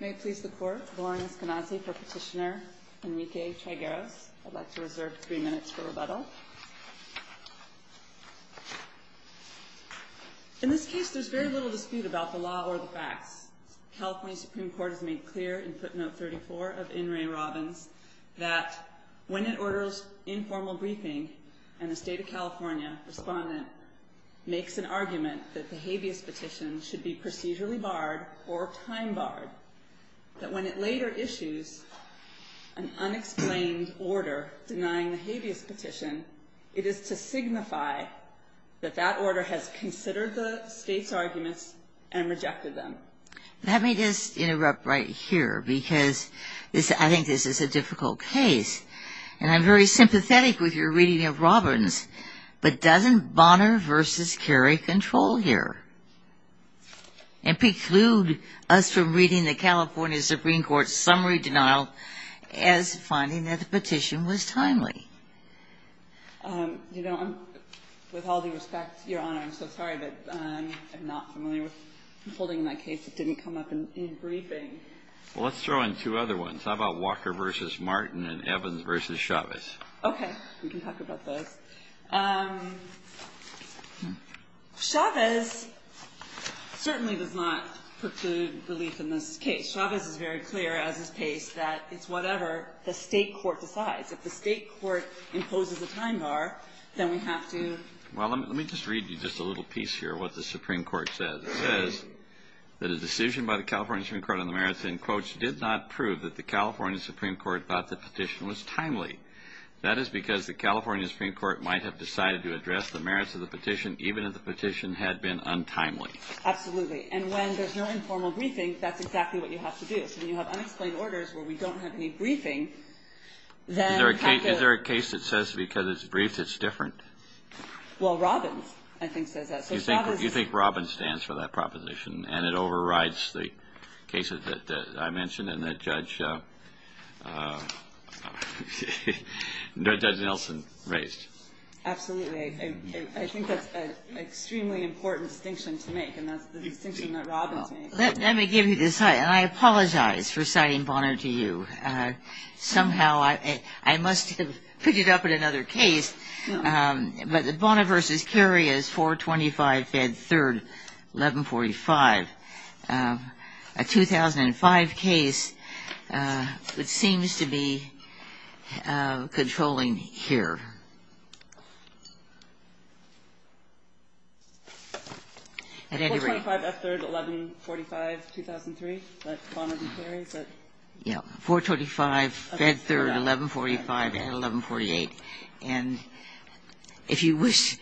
In this case, there is very little dispute about the law or the facts. California Supreme Court has made clear in footnote 3-4 of N. Ray Robbins that when it orders informal briefings and the State of California, the respondent, makes an argument that the habeas petition should be procedurally barred or time barred, that when it later issues an unexplained order denying the habeas petition, it is to signify that that order has considered the State's arguments and rejected them. Let me just interrupt right here because I think this is a difficult case. And I'm very sympathetic with your reading of Robbins, but doesn't Bonner v. Carey control here? It precludes us from reading the California Supreme Court's summary denial as finding that the petition was timely. With all due respect, Your Honor, I'm so sorry that I'm not familiar with holding that case that didn't come up in the briefing. Well, let's throw in two other ones. How about Walker v. Martin and Evans v. Chavez? Okay. We can talk about those. Chavez certainly does not preclude the lease in this case. Chavez is very clear at this case that it's whatever the state court decides. If the state court imposes a time bar, then we have to – Well, let me just read you just a little piece here of what the Supreme Court says. It says that a decision by the California Supreme Court on the merits, in quotes, did not prove that the California Supreme Court thought the petition was timely. That is because the California Supreme Court might have decided to address the merits of the petition even if the petition had been untimely. Absolutely. And when there's no informal briefing, that's exactly what you have to do. So when you have unexplained orders where we don't have any briefings, then – Is there a case that says because it's briefed, it's different? Well, Robbins, I think, says that. You think Robbins stands for that proposition, and it overrides the cases that I mentioned and that Judge Nelson raised? Absolutely. I think that's an extremely important distinction to make, and that's the distinction that Robbins made. Let me give you this. I apologize for citing Bonner to you. Somehow I must have picked it up in another case, but Bonner v. Currie is 425 F. 3rd, 1145. A 2005 case that seems to be controlling here. 425 F. 3rd, 1145, 2003. That's Bonner v. Currie. 425 F. 3rd, 1145, and 1148. And if you wish,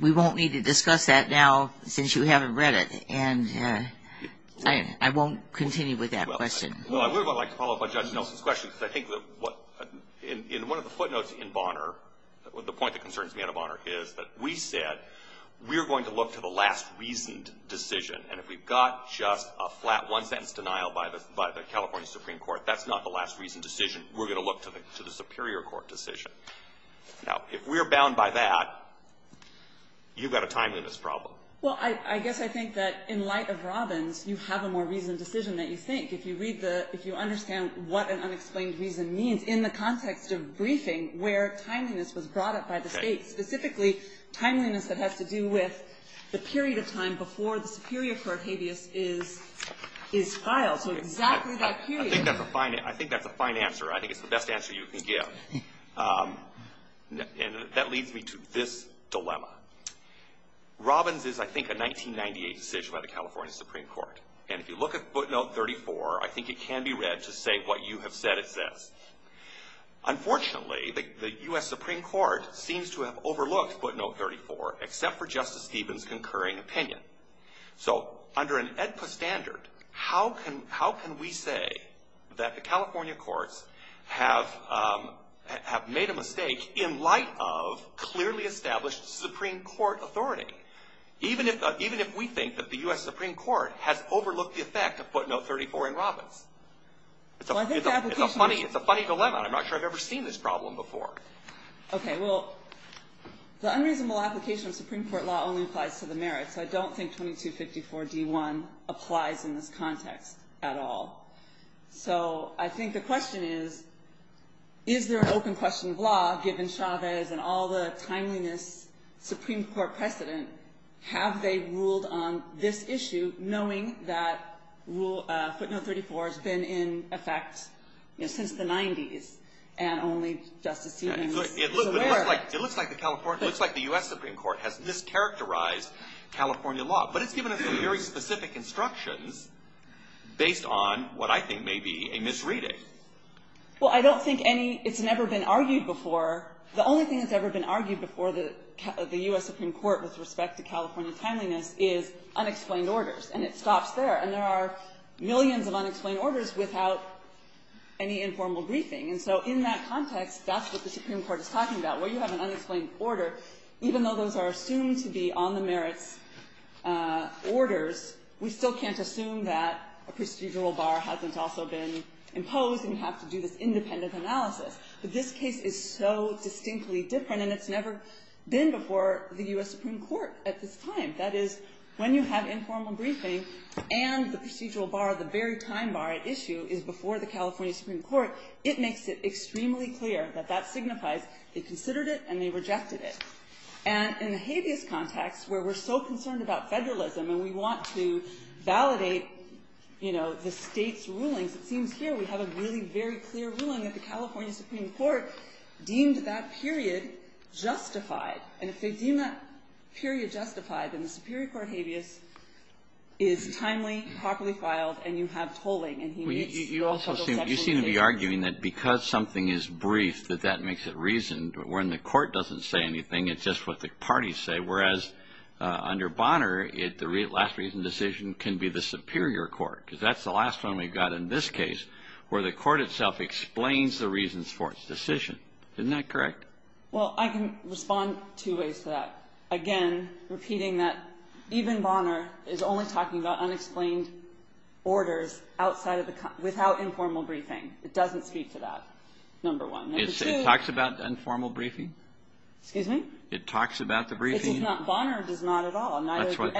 we won't need to discuss that now since you haven't read it, and I won't continue with that question. Well, I would like to follow up on Judge Nelson's question, because I think in one of the footnotes in Bonner, the point that concerns me out of Bonner is that we said we're going to look to the last reasoned decision, and if we've got just a flat one sentence denial by the California Supreme Court, that's not the last reasoned decision. We're going to look to the superior court decision. Now, if we're bound by that, you've got a timeliness problem. Well, I guess I think that in light of Robbins, you have a more reasoned decision than you think. If you understand what an unexplained reason means in the context of briefing where timeliness was brought up by the state, specifically timeliness that has to do with the period of time before the superior court habeas is filed, so exactly that period. I think that's a fine answer. I think it's the best answer you can give. And that leads me to this dilemma. Robbins is, I think, a 1998 decision by the California Supreme Court, and if you look at footnote 34, I think it can be read to say what you have said it says. Unfortunately, the U.S. Supreme Court seems to have overlooked footnote 34, except for Justice Stevens' concurring opinion. So under an AEDPA standard, how can we say that the California courts have made a mistake in light of clearly established Supreme Court authority, even if we think that the U.S. Supreme Court has overlooked the effect of footnote 34 in Robbins? It's a funny dilemma. I'm not sure I've ever seen this problem before. Okay. Well, the unreasonable application of Supreme Court law only applies to the merits. I don't think 2254D1 applies in this context at all. So I think the question is, is there an open question of law, given Chavez and all the timeliness Supreme Court precedent? Have they ruled on this issue knowing that footnote 34 has been in effect since the 90s, and only Justice Stevens is aware of it? It looks like the U.S. Supreme Court has mischaracterized California law, but it's given us some very specific instructions based on what I think may be a misreading. Well, I don't think any – it's never been argued before. The only thing that's ever been argued before the U.S. Supreme Court with respect to California timeliness is unexplained orders, and it stops there. And there are millions of unexplained orders without any informal briefing. And so in that context, that's what the Supreme Court is talking about, where you have an unexplained order. Even though those are assumed to be on the merits orders, we still can't assume that a procedural bar hasn't also been imposed, and we have to do this independent analysis. So this case is so distinctly different, and it's never been before the U.S. Supreme Court at this time. That is, when you have informal briefings and the procedural bar, the very time bar at issue, is before the California Supreme Court, it makes it extremely clear that that signifies they considered it and they rejected it. And in the habeas context, where we're so concerned about federalism and we want to validate the state's ruling, it seems here we have a really very clear ruling that the California Supreme Court deemed that period justified. And if they deem that period justified, then the Superior Court habeas is timely, properly filed, and you have tolling. You seem to be arguing that because something is brief, that that makes it reason, but when the court doesn't say anything, it's just what the parties say. Whereas under Bonner, the last reason decision can be the Superior Court, because that's the last one we've got in this case, where the court itself explains the reasons for its decision. Isn't that correct? Well, I can respond two ways to that. Again, repeating that even Bonner is only talking about unexplained orders without informal briefing. It doesn't speak to that, number one. It talks about informal briefing? It talks about the briefing? If it's not Bonner, it's not at all. But that's what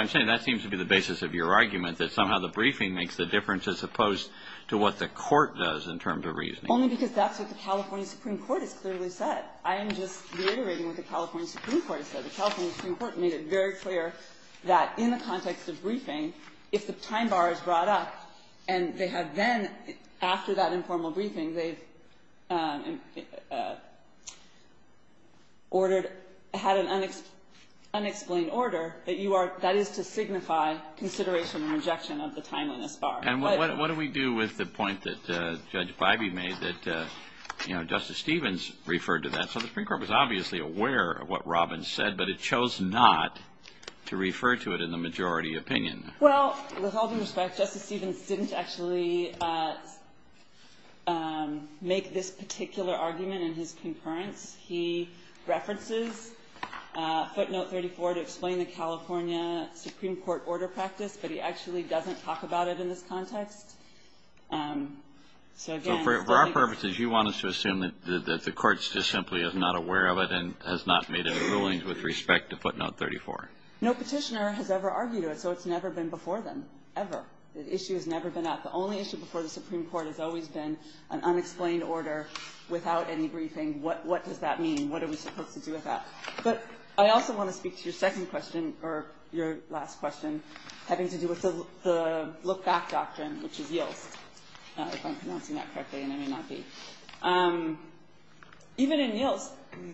I'm saying. That seems to be the basis of your argument, that somehow the briefing makes the difference as opposed to what the court does in terms of reasoning. Only because that's what the California Supreme Court has clearly said. I am just reiterating what the California Supreme Court has said. The California Supreme Court made it very clear that in the context of briefing, if the time bar is brought up and they have then, after that informal briefing, they had an unexplained order, that is to signify consideration and rejection of the time on this bar. And what do we do with the point that Judge Bybee made that Justice Stevens referred to that? So the Supreme Court was obviously aware of what Robbins said, but it chose not to refer to it in the majority opinion. Well, with all due respect, Justice Stevens didn't actually make this particular argument in his concurrence. He references footnote 34 to explain the California Supreme Court order practice, but he actually doesn't talk about it in this context. For our purposes, you want us to assume that the court just simply is not aware of it and has not made any rulings with respect to footnote 34? No petitioner has ever argued it, so it's never been before them, ever. The issue has never been asked. The only issue before the Supreme Court has always been an unexplained order without any briefing. What does that mean? What are we supposed to do with that? But I also want to speak to your second question, or your last question, having to do with the look-back doctrine, which is YILK, if I'm pronouncing that correctly, and I may not be. Even in YILK,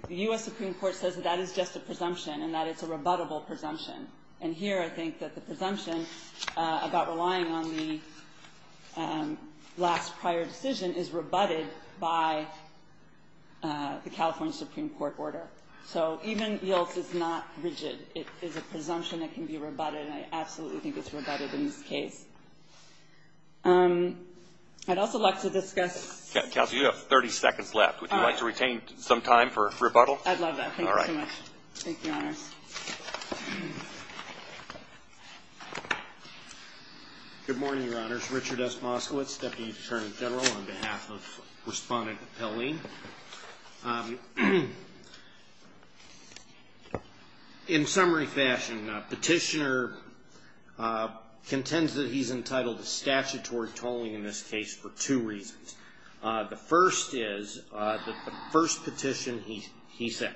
the U.S. Supreme Court says that that is just a presumption and that it's a rebuttable presumption. And here I think that the presumption about relying on the last prior decision is rebutted by the California Supreme Court order. So even in YILK, it's not rigid. It is a presumption that can be rebutted, and I absolutely think it's rebutted in this case. I'd also like to discuss – Kelsey, you have 30 seconds left. Would you like to retain some time for rebuttal? I'd love that. Thank you so much. Thank you, Your Honors. Good morning, Your Honors. Richard S. Moskowitz, Deputy Attorney General, on behalf of Respondent Helene. In summary fashion, the petitioner contends that he's entitled to statutory tolling in this case for two reasons. The first is that the first petition, he says,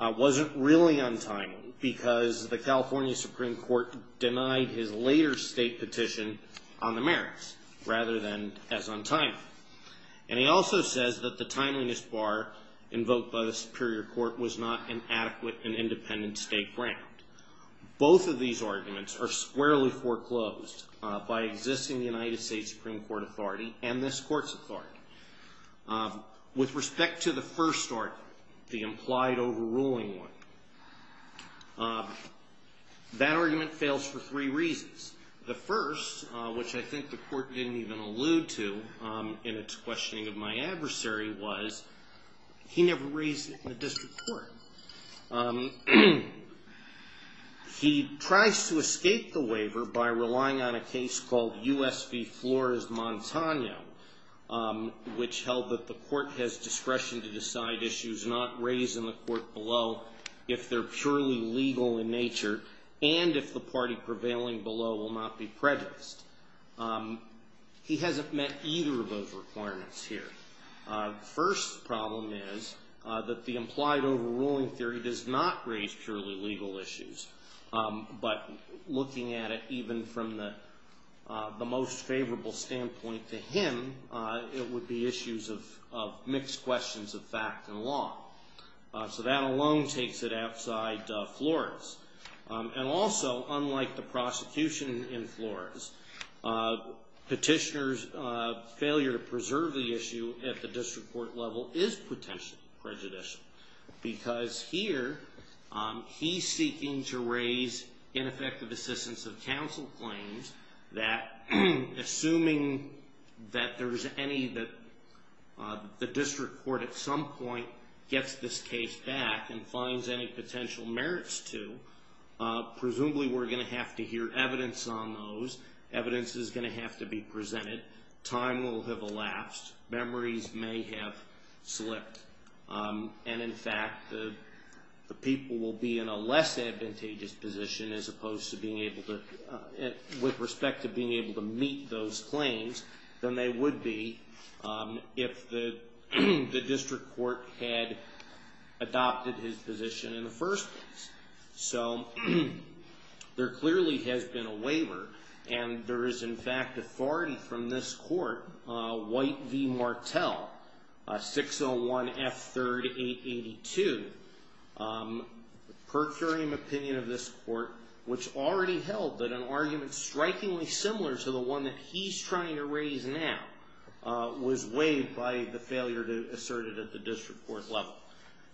wasn't really untimely because the California Supreme Court denied his later state petition on the merits rather than as untimely. And he also says that the timeliness bar invoked by the Superior Court was not an adequate and independent state grant. Both of these arguments are squarely foreclosed by existing United States Supreme Court authority and this Court's authority. With respect to the first argument, the implied overruling one, that argument fails for three reasons. The first, which I think the Court didn't even allude to in its questioning of my adversary, was he never raised it in a district court. He tries to escape the waiver by relying on a case called U.S. v. Flores-Montano, which held that the Court has discretion to decide issues not raised in the court below if they're purely legal in nature and if the party prevailing below will not be prejudiced. He hasn't met either of those requirements here. The first problem is that the implied overruling theory does not raise purely legal issues. But looking at it even from the most favorable standpoint to him, it would be issues of mixed questions of fact and law. So that alone takes it outside Flores. And also, unlike the prosecution in Flores, petitioner's failure to preserve the issue at the district court level is potentially prejudicial. Because here, he's seeking to raise ineffective assistance of counsel claims that, assuming that the district court at some point gets this case back and finds any potential merits to, presumably we're going to have to hear evidence on those. Evidence is going to have to be presented. Time will have elapsed. Memories may have slipped. And in fact, the people will be in a less advantageous position as opposed to being able to, with respect to being able to meet those claims than they would be if the district court had adopted his position in the first place. So, there clearly has been a waiver. And there is, in fact, authority from this court, White v. Martel, 601 F. 3rd 882, per current opinion of this court, which already held that an argument strikingly similar to the one that he's trying to raise now was waived by the failure to assert it at the district court level.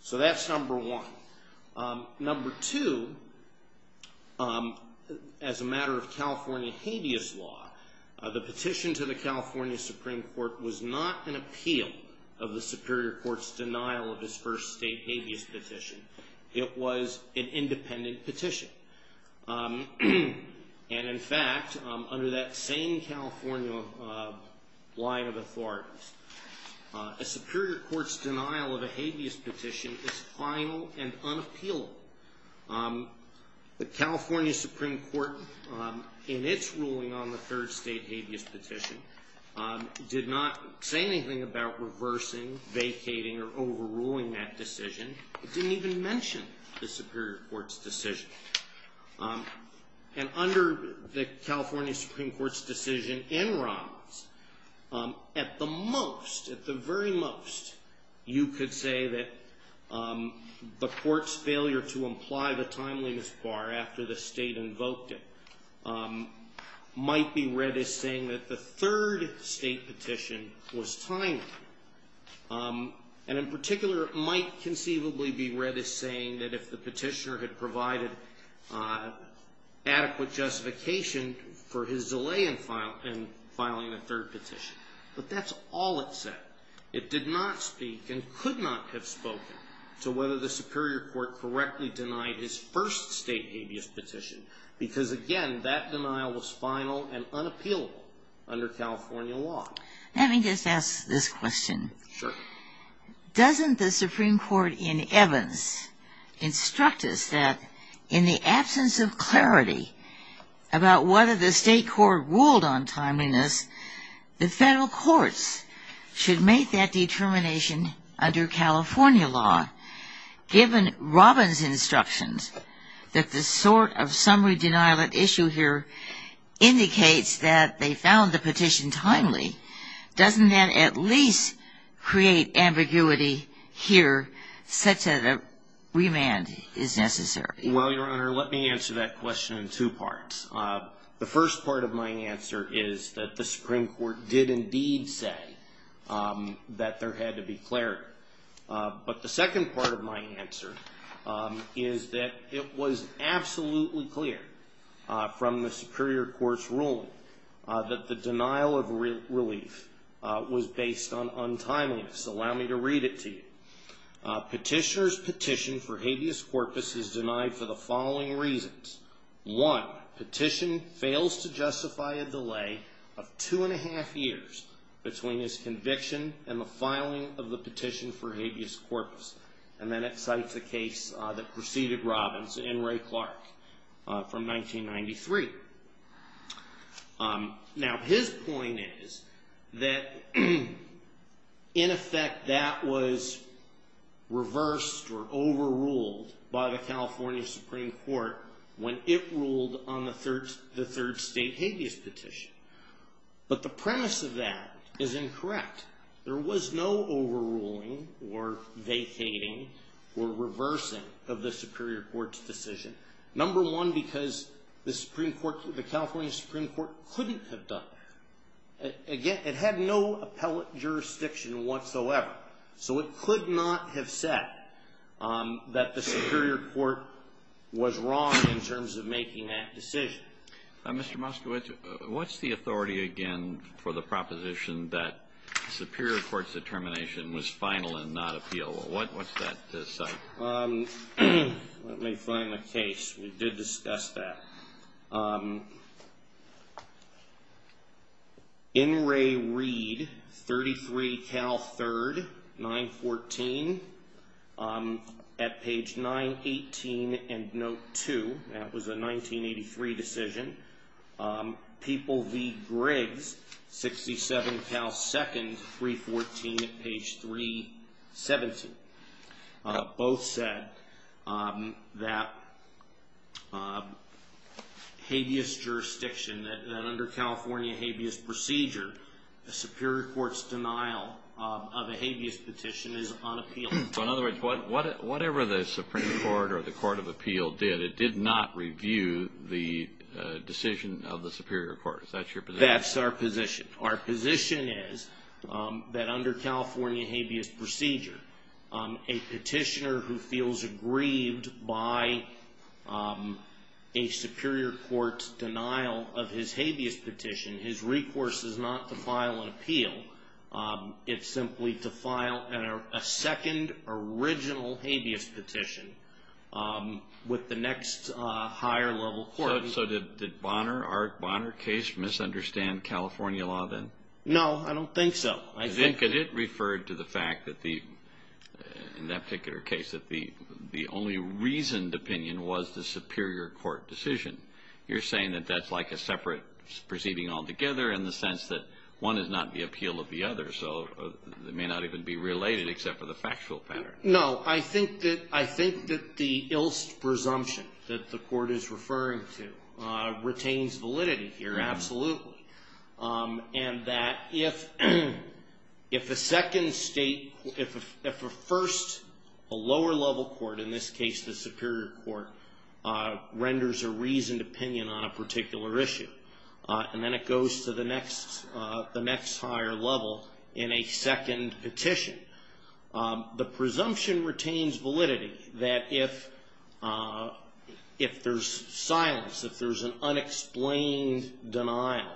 So that's number one. Number two, as a matter of California habeas law, the petition to the California Supreme Court was not an appeal of the Superior Court's denial of its first state habeas petition. It was an independent petition. And in fact, under that same California line of authority, the Superior Court's denial of a habeas petition is final and unappealable. The California Supreme Court, in its ruling on the third state habeas petition, did not say anything about reversing, vacating, or overruling that decision. It didn't even mention the Superior Court's decision. And under the California Supreme Court's decision in Riles, at the most, at the very most, you could say that the court's failure to imply the timeliness bar after the state invoked it might be read as saying that the third state petition was timely. And in particular, it might conceivably be read as saying that if the petitioner had provided adequate justification for his delay in filing the third petition. But that's all it said. It did not speak and could not have spoken to whether the Superior Court correctly denied his first state habeas petition. Because again, that denial was final and unappealable under California law. Let me just ask this question. Sure. Doesn't the Supreme Court in Evans instruct us that in the absence of clarity about whether the state court ruled on timeliness, the federal courts should make that determination under California law, given Robin's instructions that the sort of summary denial of issues here indicates that they found the petition timely, doesn't that at least create ambiguity here such that a remand is necessary? Well, Your Honor, let me answer that question in two parts. The first part of my answer is that the Supreme Court did indeed say that there had to be clarity. But the second part of my answer is that it was absolutely clear from the Superior Court's ruling that the denial of relief was based on timeliness. Allow me to read it to you. Petitioner's petition for habeas corpus is denied for the following reasons. One, petition fails to justify a delay of two and a half years between his conviction and the filing of the petition for habeas corpus. And then it cites the case that preceded Robin's, In re Clark, from 1993. Now, his point is that, in effect, that was reversed or overruled by the California Supreme Court when it ruled on the third state habeas petition. But the premise of that is incorrect. There was no overruling or vacating or reversing of the Superior Court's decision. Number one, because the California Supreme Court couldn't have done that. Again, it had no appellate jurisdiction whatsoever. So it could not have said that the Superior Court was wrong in terms of making that decision. Mr. Moskowitz, what's the authority, again, for the proposition that the Superior Court's determination was final and not appealable? What's that say? Let me find the case. We did discuss that. In re Reed, 33 Cal 3rd, 914, at page 918 and note 2, that was a 1983 decision. People v. Griggs, 67 Cal 2nd, 314, page 317. Both said that habeas jurisdiction, that under California habeas procedure, the Superior Court's denial of a habeas petition is unappealable. In other words, whatever the Supreme Court or the Court of Appeal did, it did not review the decision of the Superior Court. Is that your position? That's our position. Our position is that under California habeas procedure, a petitioner who feels aggrieved by a Superior Court's denial of his habeas petition, his recourse is not to file an appeal. It's simply to file a second original habeas petition with the next higher level court. So did Bonner, our Bonner case, misunderstand California law then? No, I don't think so. I think that it referred to the fact that the, in that particular case, that the only reasoned opinion was the Superior Court decision. You're saying that that's like a separate proceeding altogether in the sense that one is not the appeal of the other, so it may not even be related except for the factual pattern. No, I think that the ill presumption that the court is referring to retains validity here, absolutely. And that if the second state, if a first, a lower level court, in this case the Superior Court, renders a reasoned opinion on a particular issue, and then it goes to the next higher level in a second petition, the presumption retains validity that if there's silence, if there's an unexplained denial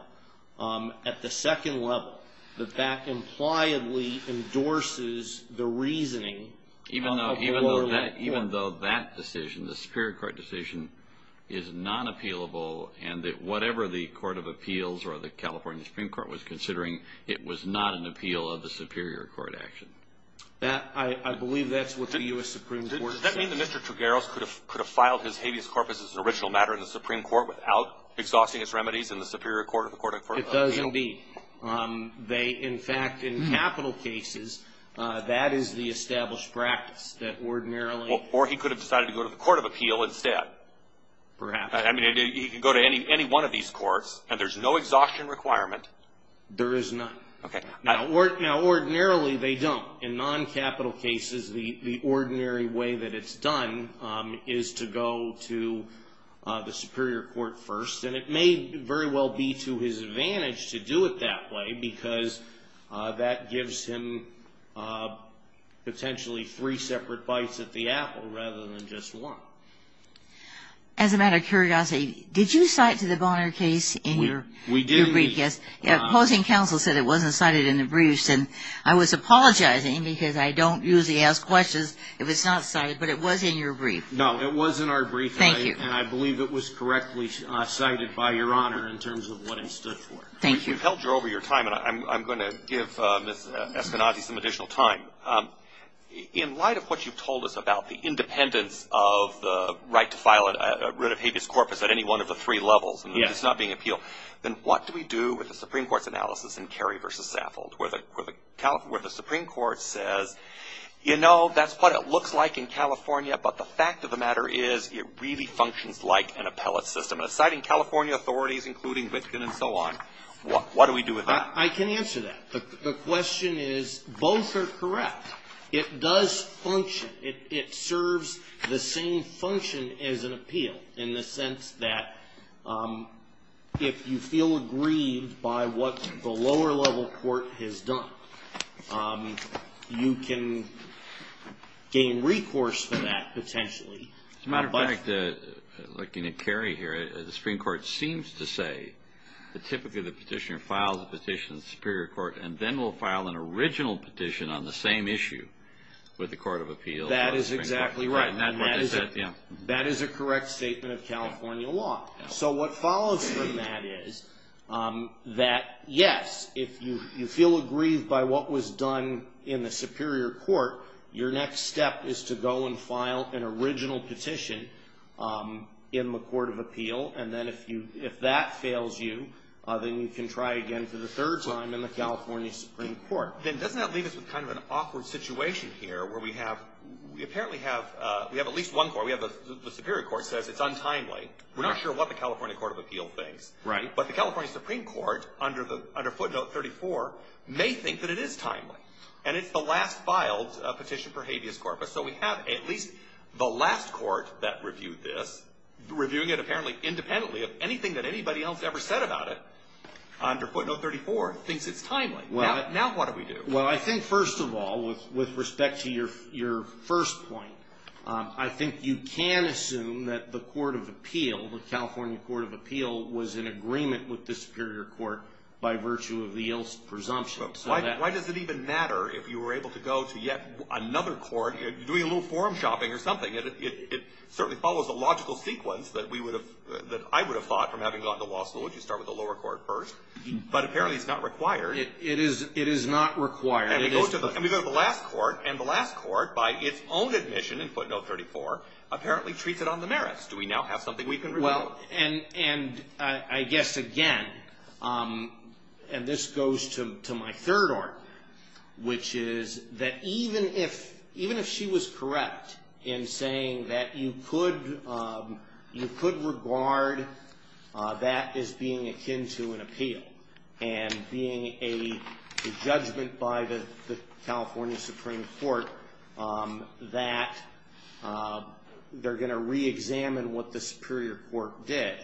at the second level, that that impliedly endorses the reasoning of the lower level court. So you're saying that even though that decision, the Superior Court decision, is non-appealable, and that whatever the Court of Appeals or the California Supreme Court was considering, it was not an appeal of the Superior Court action? I believe that's what the U.S. Supreme Court... Does that mean that Mr. Trigueros could have filed his habeas corpus as an original matter in the Supreme Court without exhausting its remedies in the Superior Court and the Court of Appeals? It doesn't be. They, in fact, in capital cases, that is the established practice, that ordinarily... Or he could have decided to go to the Court of Appeal instead. Perhaps. I mean, he could go to any one of these courts, and there's no exhaustion requirement. There is none. Okay. Now, ordinarily, they don't. In non-capital cases, the ordinary way that it's done is to go to the Superior Court first, and it may very well be to his advantage to do it that way because that gives him potentially three separate fights at the apple rather than just one. As a matter of curiosity, did you cite to the Bonner case in your... We did. ...brief. Yes. Opposing counsel said it wasn't cited in the briefs, and I was apologizing because I don't usually ask questions if it's not cited, but it was in your brief. No, it was in our brief. Thank you. And I believe it was correctly cited by Your Honor in terms of what it stood for. Thank you. You've helped her over your time, and I'm going to give Ms. Espinade some additional time. In light of what you've told us about the independence of the right to file a writ of habeas corpus at any one of the three levels, and it's not being appealed, then what do we do with the Supreme Court's analysis in Carey v. Stafford where the Supreme Court says, you know, that's what it looks like in California, but the fact of the matter is it really functions like an appellate system. And citing California authorities, including Richmond and so on, what do we do with that? I can answer that. The question is both are correct. It does function. It serves the same function as an appeal in the sense that if you feel aggrieved by what the lower-level court has done, you can gain recourse for that potentially. Looking at Carey here, the Supreme Court seems to say that typically the petitioner files a petition in the Superior Court and then will file an original petition on the same issue with the Court of Appeals. That is exactly right. That is a correct statement of California law. So what follows from that is that, yes, if you feel aggrieved by what was done in the Superior Court, your next step is to go and file an original petition in the Court of Appeals, and then if that fails you, then you can try again for the third time in the California Supreme Court. And doesn't that leave us with kind of an awkward situation here where we have, we apparently have at least one court, we have the Superior Court says it's untimely. We're not sure what the California Court of Appeals thinks. Right. But the California Supreme Court, under footnote 34, may think that it is timely. And it's the last filed petition for habeas corpus. So we have at least the last court that reviewed this, reviewing it apparently independently of anything that anybody else ever said about it, under footnote 34, thinks it's timely. Now what do we do? Well, I think first of all, with respect to your first point, I think you can assume that the Court of Appeals, the California Court of Appeals, was in agreement with the Superior Court by virtue of the ill presumption. Why does it even matter if you were able to go to yet another court? You're doing a little forum shopping or something. It certainly follows a logical sequence that I would have thought from having gone to law school. You start with the lower court first. But apparently it's not required. It is not required. And we go to the last court, and the last court, by its own admission in footnote 34, apparently treats it on the merits. Do we now have something we can rely on? I guess, again, and this goes to my third argument, which is that even if she was correct in saying that you could regard that as being akin to an appeal and being a judgment by the California Supreme Court that they're going to reexamine what the Superior Court did,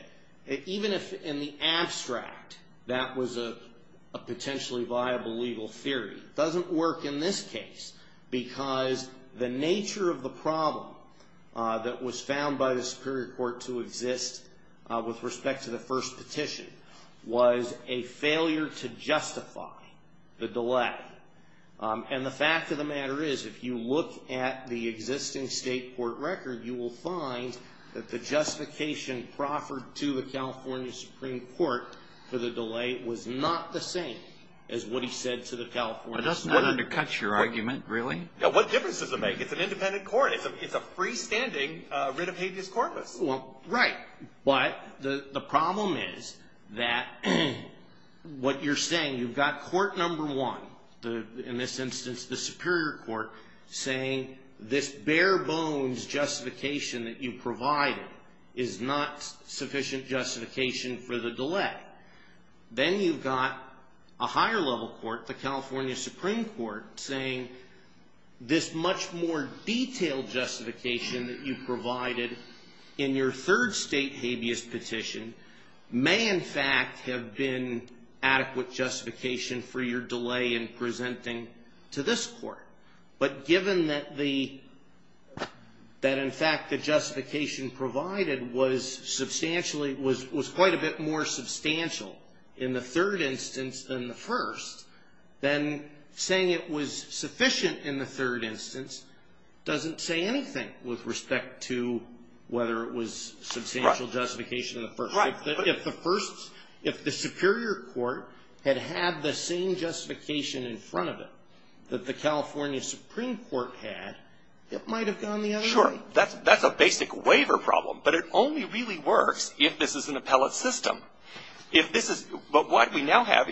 even if in the abstract that was a potentially viable legal theory, it doesn't work in this case because the nature of the problem that was found by the Superior Court to exist with respect to the first petition was a failure to justify the delay. And the fact of the matter is if you look at the existing state court record, you will find that the justification proffered to the California Supreme Court for the delay was not the same as what he said to the California Supreme Court. That doesn't undercut your argument, really. What difference does it make? It's an independent court. It's a freestanding writ of habeas corpus. Well, right. But the problem is that what you're saying, you've got court number one, in this instance the Superior Court, saying this bare bones justification that you provided is not sufficient justification for the delay. Then you've got a higher level court, the California Supreme Court, saying this much more detailed justification that you provided in your third state habeas petition may in fact have been adequate justification for your delay in presenting to this court. But given that in fact the justification provided was substantially, was quite a bit more substantial in the third instance than the first, then saying it was sufficient in the third instance doesn't say anything with respect to whether it was substantial justification. Right. If the Superior Court had had the same justification in front of it that the California Supreme Court had, it might have gone the other way. Sure. That's a basic waiver problem. But it only really works if this is an appellate system. But what we now have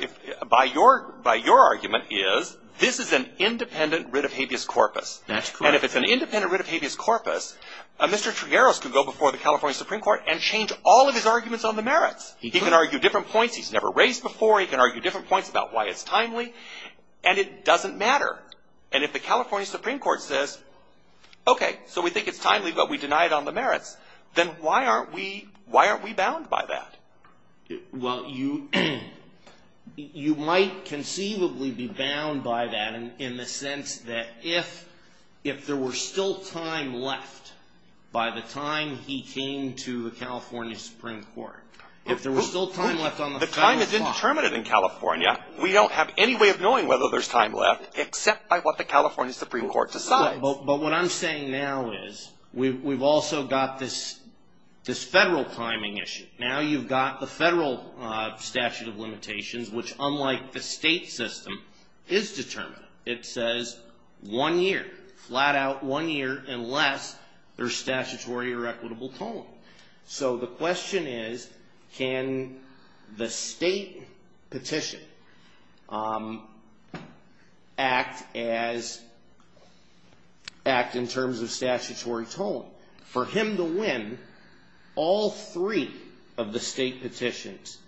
by your argument is this is an independent writ of habeas corpus. That's correct. And if it's an independent writ of habeas corpus, Mr. Trigueros can go before the California Supreme Court and change all of his arguments on the merits. He can argue different points he's never raised before. He can argue different points about why it's timely. And it doesn't matter. And if the California Supreme Court says, okay, so we think it's timely, but we deny it on the merits, then why aren't we bound by that? Well, you might conceivably be bound by that in the sense that if there were still time left by the time he came to the California Supreme Court, if there were still time left on the time clock. The time is indeterminate in California. We don't have any way of knowing whether there's time left except by what the California Supreme Court decides. But what I'm saying now is we've also got this federal timing issue. Now you've got the federal statute of limitations, which unlike the state system, is determinative. It says one year, flat out one year, unless there's statutory or equitable tolling. So the question is can the state petition act in terms of statutory tolling? For him to win, all three of the state petitions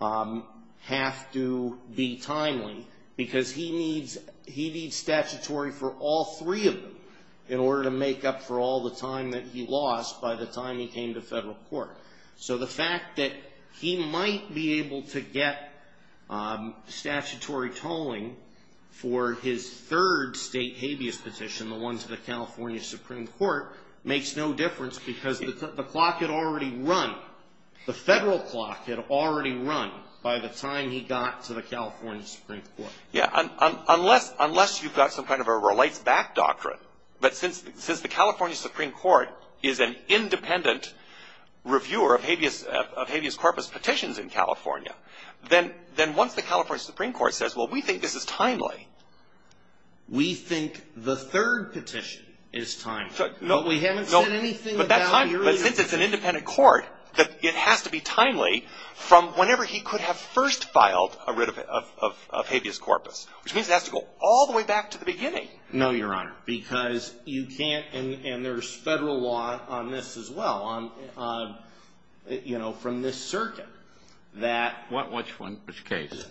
have to be timely because he needs statutory for all three of them in order to make up for all the time that he lost by the time he came to federal court. So the fact that he might be able to get statutory tolling for his third state habeas petition, the one to the California Supreme Court, makes no difference because the clock had already run. The federal clock had already run by the time he got to the California Supreme Court. Unless you've got some kind of a relate-back doctrine, but since the California Supreme Court is an independent reviewer of habeas corpus petitions in California, then once the California Supreme Court says, well, we think this is timely. We think the third petition is timely. But we haven't said anything about the earlier petition. But since it's an independent court, it has to be timely from whenever he could have first filed a writ of habeas corpus, which means it has to go all the way back to the beginning. No, Your Honor. Because you can't, and there's federal law on this as well, from this circuit. Which case?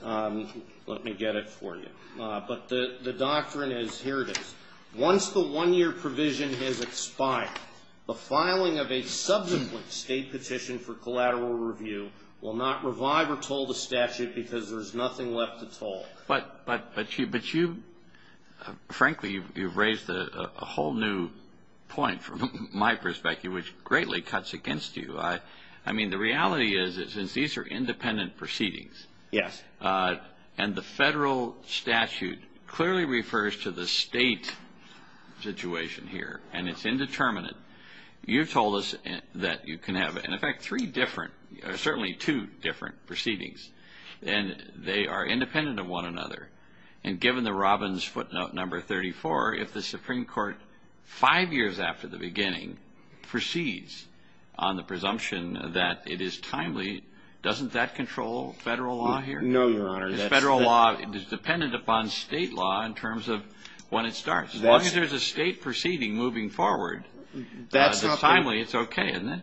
Let me get it for you. But the doctrine is, here it is. Once the one-year provision has expired, the filing of a subsequent state petition for collateral review will not revive or toll the statute because there's nothing left to toll. But you, frankly, you've raised a whole new point from my perspective, which greatly cuts against you. I mean, the reality is that since these are independent proceedings, and the federal statute clearly refers to the state situation here, and it's indeterminate, you told us that you can have, in effect, three different, certainly two different proceedings, and they are independent of one another. And given the Robbins footnote number 34, if the Supreme Court five years after the beginning proceeds on the presumption that it is timely, doesn't that control federal law here? No, Your Honor. Federal law is dependent upon state law in terms of when it starts. As long as there's a state proceeding moving forward, if it's timely, it's okay, isn't it?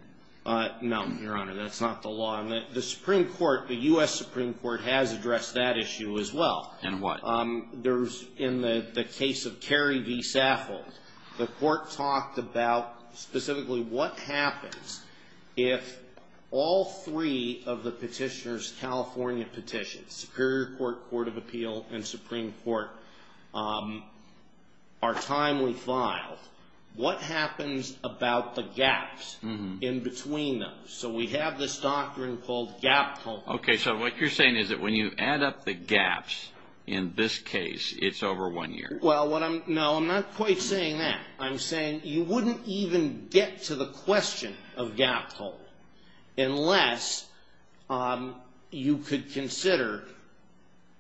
No, Your Honor. That's not the law. The Supreme Court, the U.S. Supreme Court, has addressed that issue as well. In what? In the case of Terry v. Saffold, the court talked about specifically what happens if all three of the petitioners' California petitions, Superior Court, Court of Appeal, and Supreme Court, are timely filed. What happens about the gaps in between those? So we have this doctrine called gap control. Okay, so what you're saying is that when you add up the gaps in this case, it's over one year. Well, no, I'm not quite saying that. I'm saying you wouldn't even get to the question of gap control unless you could consider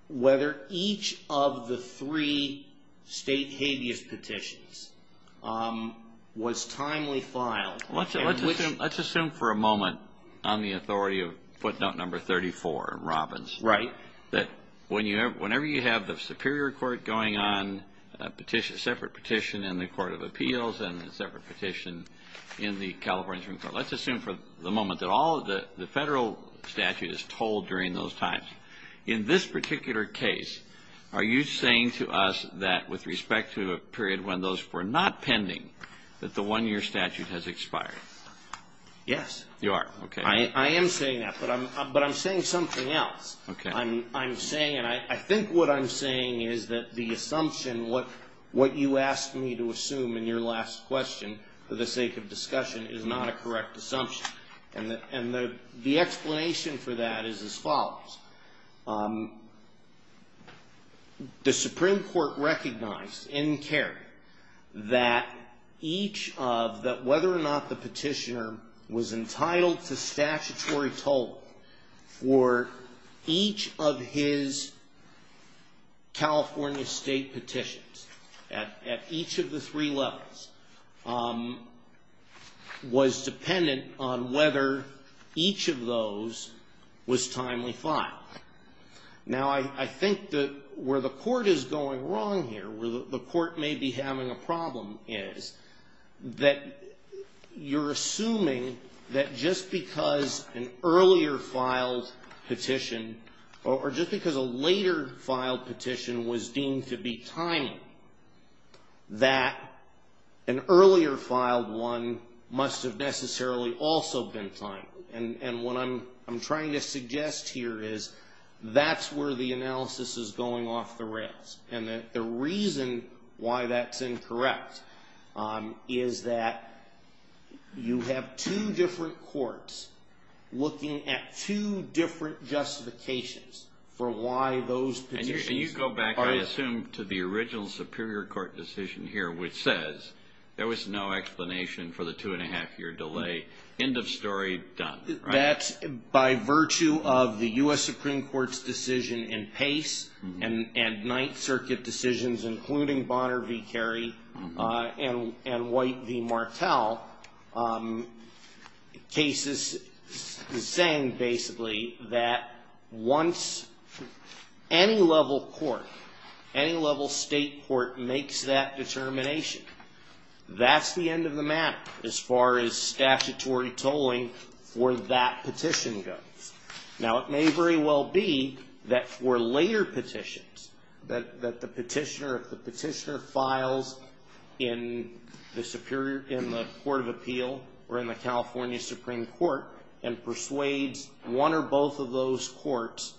whether each of the three state habeas petitions was timely filed. Let's assume for a moment on the authority of footnote number 34 in Robbins that whenever you have the Superior Court going on a separate petition in the Court of Appeals and a separate petition in the California Supreme Court, let's assume for the moment that all of the federal statute is told during those times. In this particular case, are you saying to us that with respect to a period when those were not pending, that the one-year statute has expired? Yes. You are, okay. I am saying that, but I'm saying something else. I'm saying, and I think what I'm saying is that the assumption, what you asked me to assume in your last question for the sake of discussion, is not a correct assumption. And the explanation for that is as follows. The Supreme Court recognized in Kerry that each of, that whether or not the petitioner was entitled to statutory toll or each of his California state petitions at each of the three levels was dependent on whether each of those was timely filed. Now, I think that where the court is going wrong here, where the court may be having a problem is that you're assuming that just because an earlier filed petition or just because a later filed petition was deemed to be timely, that an earlier filed one must have necessarily also been timely. And what I'm trying to suggest here is that's where the analysis is going off the rails. And the reason why that's incorrect is that you have two different courts looking at two different justifications for why those petitions are timely. And you go back, I assume, to the original Superior Court decision here, which says there was no explanation for the two-and-a-half-year delay. End of story, done, right? And that's by virtue of the U.S. Supreme Court's decision in Pace and Ninth Circuit decisions, including Bonner v. Kerry and White v. Martel, cases saying basically that once any level court, any level state court makes that determination, that's the end of the map as far as statutory tolling for that petition goes. Now, it may very well be that for later petitions, that the petitioner files in the Court of Appeal or in the California Supreme Court and persuades one or both of those courts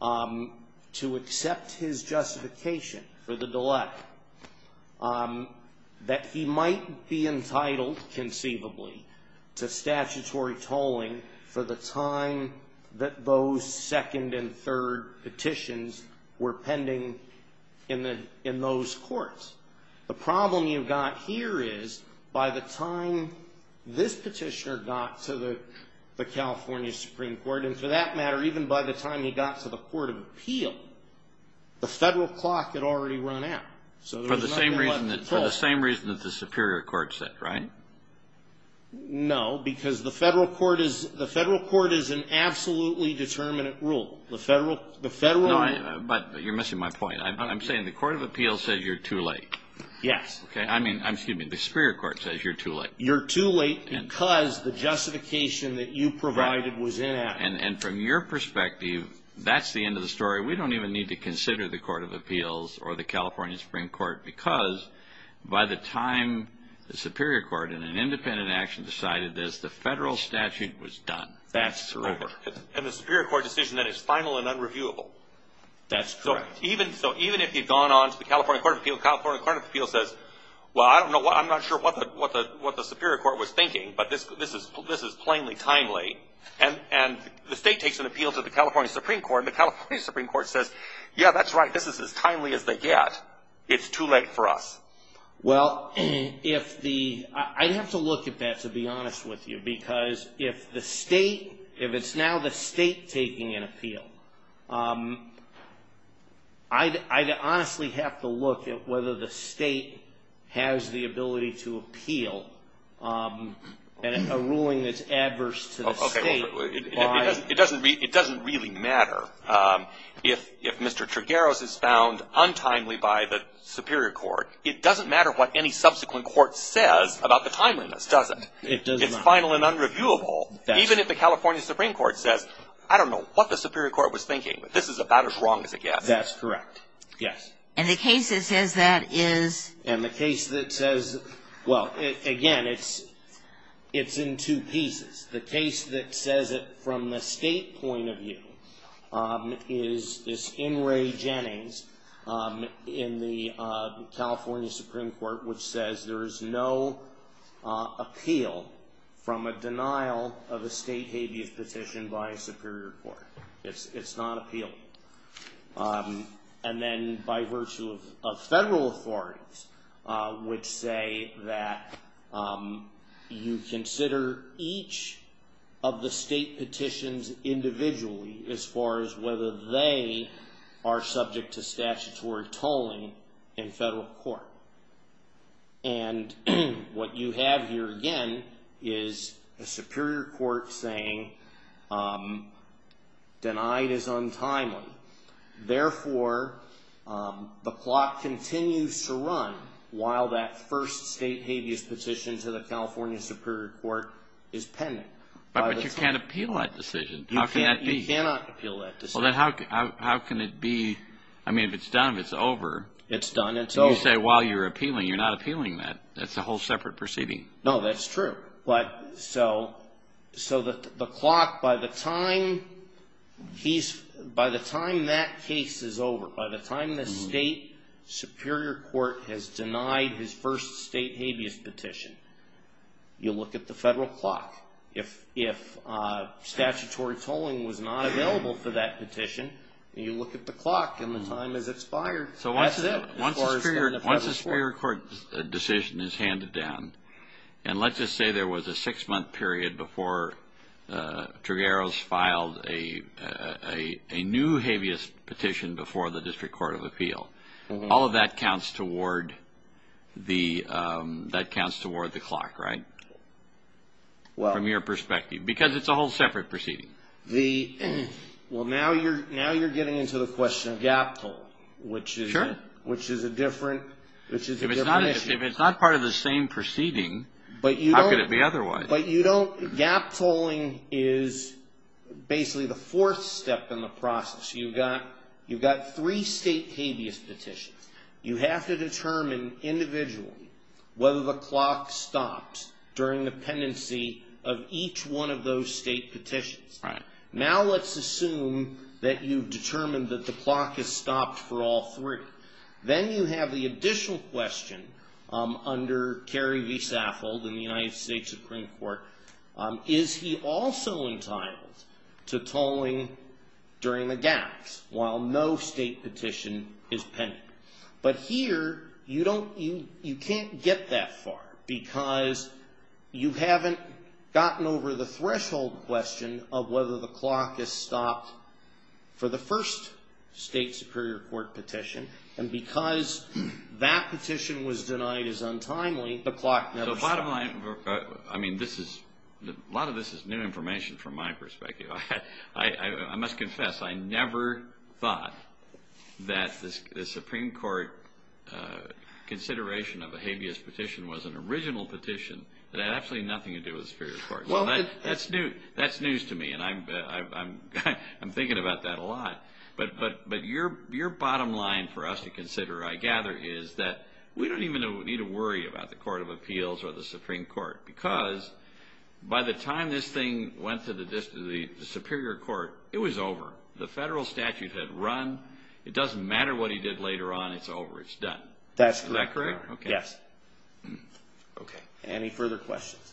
to accept his justification for the delay. That he might be entitled, conceivably, to statutory tolling for the time that those second and third petitions were pending in those courts. The problem you've got here is by the time this petitioner got to the California Supreme Court, and for that matter, even by the time he got to the Court of Appeal, the federal clock had already run out. For the same reason that the Superior Court said, right? No, because the federal court is an absolutely determinate rule. But you're missing my point. I'm saying the Court of Appeal says you're too late. Yes. I mean, excuse me, the Superior Court says you're too late. You're too late because the justification that you provided was inaccurate. And from your perspective, that's the end of the story. We don't even need to consider the Court of Appeals or the California Supreme Court because by the time the Superior Court, in an independent action, decided this, the federal statute was done. That's correct. And the Superior Court decision that it's final and unreviewable. That's correct. So even if you've gone on to the California Court of Appeals, California Court of Appeals says, well, I'm not sure what the Superior Court was thinking, but this is plainly timely. And the state takes an appeal to the California Supreme Court, and the California Supreme Court says, yeah, that's right, this is as timely as they get. It's too late for us. Well, if the – I'd have to look at that, to be honest with you, because if the state – if it's now the state taking an appeal, I'd honestly have to look at whether the state has the ability to appeal a ruling that's adverse to the state. It doesn't really matter. If Mr. Trigueros is found untimely by the Superior Court, it doesn't matter what any subsequent court says about the timeliness, does it? It doesn't matter. It's final and unreviewable. Even if the California Supreme Court says, I don't know what the Superior Court was thinking, this is about as wrong as it gets. That's correct, yes. And the case that says that is? And the case that says – well, again, it's in two pieces. The case that says it from the state point of view is this In re Genes in the California Supreme Court, which says there is no appeal from a denial of a state habeas petition by a Superior Court. It's not appealing. And then by virtue of federal authorities, which say that you consider each of the state petitions individually as far as whether they are subject to statutory tolling in federal court. And what you have here, again, is a Superior Court saying denied is untimely. Therefore, the clock continues to run while that first state habeas petition to the California Superior Court is pending. But you can't appeal that decision. You cannot appeal that decision. Well, then how can it be – I mean, if it's done, it's over. It's done, it's over. You say while you're appealing. You're not appealing that. That's a whole separate proceeding. No, that's true. So the clock, by the time that case is over, by the time the state Superior Court has denied his first state habeas petition, you look at the federal clock. If statutory tolling was not available for that petition, you look at the clock and the time as it's fired. So once the Superior Court decision is handed down, and let's just say there was a six-month period before Trigueros filed a new habeas petition before the District Court of Appeal, all of that counts toward the clock, right, from your perspective? Because it's a whole separate proceeding. Well, now you're getting into the question of gap tolling, which is a different issue. If it's not part of the same proceeding, how could it be otherwise? But you don't – gap tolling is basically the fourth step in the process. You've got three state habeas petitions. You have to determine individually whether the clock stops during the pendency of each one of those state petitions. Now let's assume that you've determined that the clock has stopped for all three. Then you have the additional question under Terry v. Saffold in the United States Supreme Court. Is he also entitled to tolling during a gap while no state petition is pending? But here you don't – you can't get that far because you haven't gotten over the threshold question of whether the clock has stopped for the first state Superior Court petition. And because that petition was denied as untimely, the clock never stopped. I mean, this is – a lot of this is new information from my perspective. I must confess, I never thought that the Supreme Court consideration of a habeas petition was an original petition that had absolutely nothing to do with the Superior Court. That's news to me, and I'm thinking about that a lot. But your bottom line for us to consider, I gather, is that we don't even need to worry about the Court of Appeals or the Supreme Court because by the time this thing went to the Superior Court, it was over. The federal statute had run. It doesn't matter what he did later on. It's over. It's done. Is that correct? Yes. Okay. Any further questions?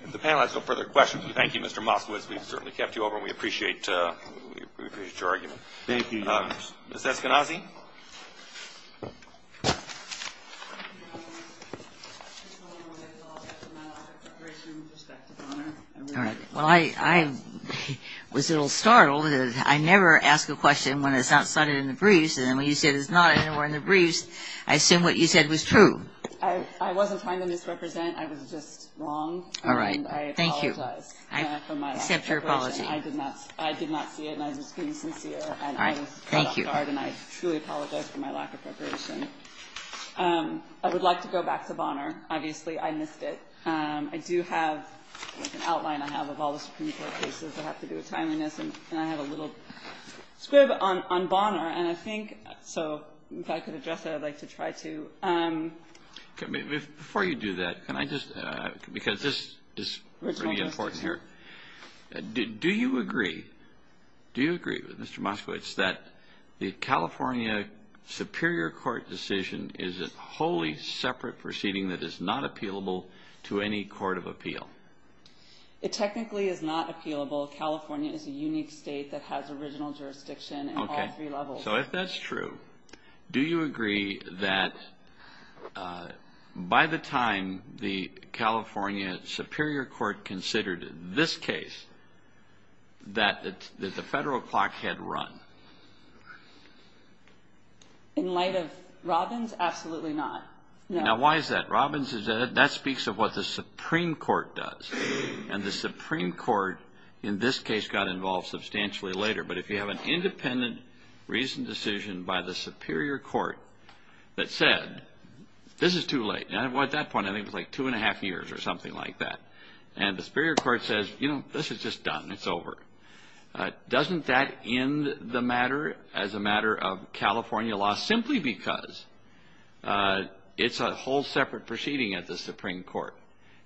If the panel has no further questions, thank you, Mr. Moskowitz. We've certainly kept you over, and we appreciate your argument. Thank you. Ms. Eskenazi? Well, I was a little startled. I never ask a question when it's not flooded in the breeze, and when you said it's not and we're in the breeze, I assumed what you said was true. I wasn't trying to misrepresent. I was just wrong. All right. Thank you. I apologize for my question. I accept your apology. I did not see it, and I was being sincere. All right. Thank you. And I truly apologize for my lack of preparation. I would like to go back to Bonner. Obviously, I missed it. I do have an outline I have of all the Supreme Court cases that have to do with timeliness, and I have a little scrib on Bonner, and I think so if I could address that, I'd like to try to. Before you do that, can I just, because this is really important here. Do you agree with Mr. Moskowitz that the California Superior Court decision is a wholly separate proceeding that is not appealable to any court of appeal? It technically is not appealable. California is a unique state that has original jurisdiction in all three levels. Okay. So if that's true, do you agree that by the time the California Superior Court considered this case, that the federal clock had run? In light of Robbins, absolutely not. Now, why is that? Robbins, that speaks of what the Supreme Court does, and the Supreme Court, in this case, got involved substantially later, but if you have an independent reasoned decision by the Superior Court that said, this is too late. At that point, I think it was like two and a half years or something like that, and the Superior Court says, you know, this is just done. It's over. Doesn't that end the matter as a matter of California law simply because it's a whole separate proceeding at the Supreme Court?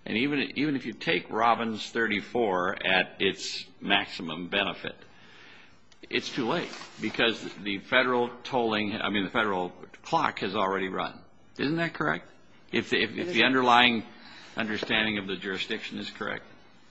Even if you take Robbins 34 at its maximum benefit, it's too late because the federal clock has already run. Isn't that correct, if the underlying understanding of the jurisdiction is correct?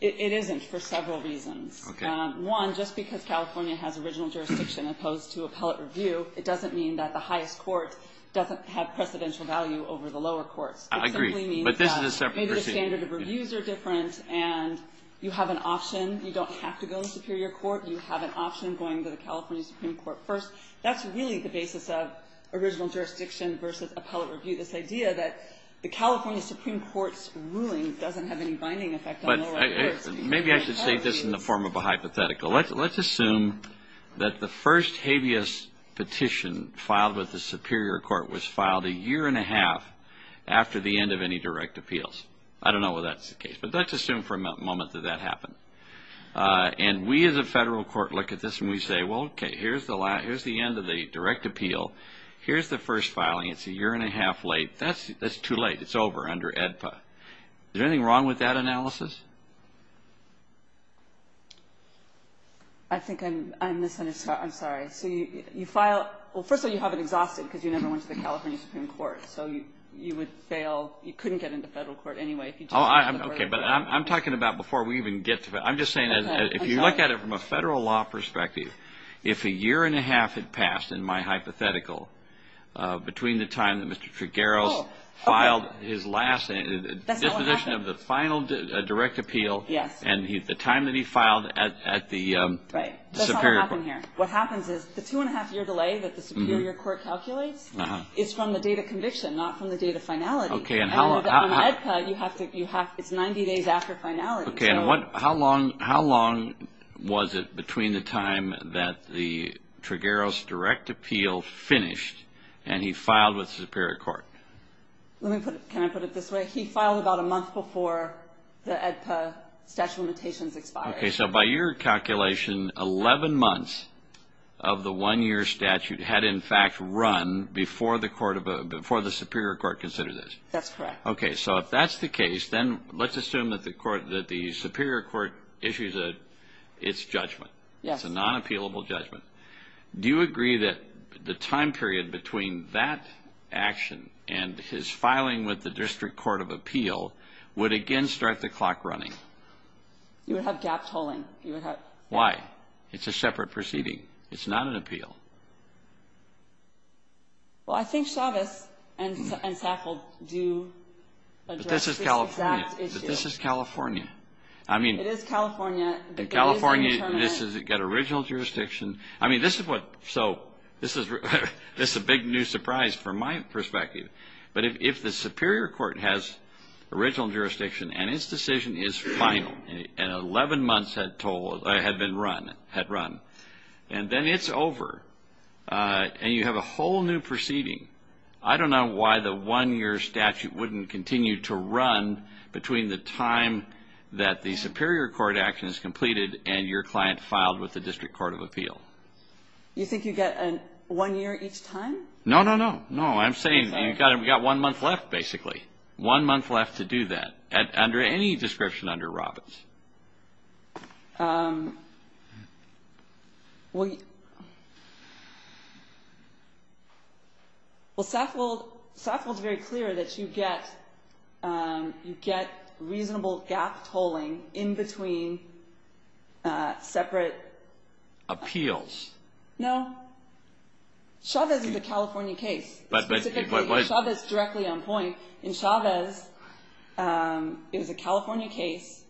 It isn't for several reasons. One, just because California has original jurisdiction opposed to appellate review, it doesn't mean that the highest court doesn't have precedential value over the lower court. I agree, but this is a separate proceeding. Maybe the standard of reviews are different, and you have an option. You don't have to go to the Superior Court. You have an option of going to the California Supreme Court first. That's really the basis of original jurisdiction versus appellate review, this idea that the California Supreme Court's ruling doesn't have any binding effect on the legislature. Maybe I should say this in the form of a hypothetical. Let's assume that the first habeas petition filed with the Superior Court was filed a year and a half after the end of any direct appeals. I don't know whether that's the case, but let's assume for a moment that that happened. And we as a federal court look at this and we say, well, okay, here's the end of the direct appeal. Here's the first filing. It's a year and a half late. That's too late. It's over under AEDPA. Is there anything wrong with that analysis? I think I'm misunderstood. I'm sorry. So you file – well, first of all, you have an exhaustion because you never went to the California Supreme Court. So you would fail. You couldn't get into federal court anyway. Okay, but I'm talking about before we even get to it. I'm just saying if you look at it from a federal law perspective, if a year and a half had passed in my hypothetical between the time that Mr. Tregero filed his last definition of the final direct appeal and the time that he filed at the Superior Court. What happens is the two and a half year delay that the Superior Court calculates is from the date of conviction, not from the date of finality. In AEDPA, it's 90 days after finality. Okay, and how long was it between the time that the Tregero's direct appeal finished and he filed at the Superior Court? Can I put it this way? He filed about a month before the AEDPA statute of limitations expired. Okay, so by your calculation, 11 months of the one-year statute had, in fact, run before the Superior Court considered this. That's correct. Okay, so if that's the case, then let's assume that the Superior Court issues its judgment. It's a non-appealable judgment. Do you agree that the time period between that action and his filing with the District Court of Appeal would again start the clock running? You would have gaps holding. Why? It's a separate proceeding. It's not an appeal. Well, I think Chavez and Sackle do. But this is California. But this is California. It is California. In California, you've got original jurisdiction. I mean, this is a big new surprise from my perspective. But if the Superior Court has original jurisdiction and its decision is final, and 11 months had been run, and then it's over, and you have a whole new proceeding, I don't know why the one-year statute wouldn't continue to run between the time that the Superior Court action is completed and your client filed with the District Court of Appeal. You think you get one year each time? No, no, no. No, I'm saying you've got one month left, basically. One month left to do that, under any description under Robbins. Well, Sackle is very clear that you get reasonable gaps holding in between separate appeals. No. Chavez is a California case. Chavez is directly on point. In Chavez, it was a California case.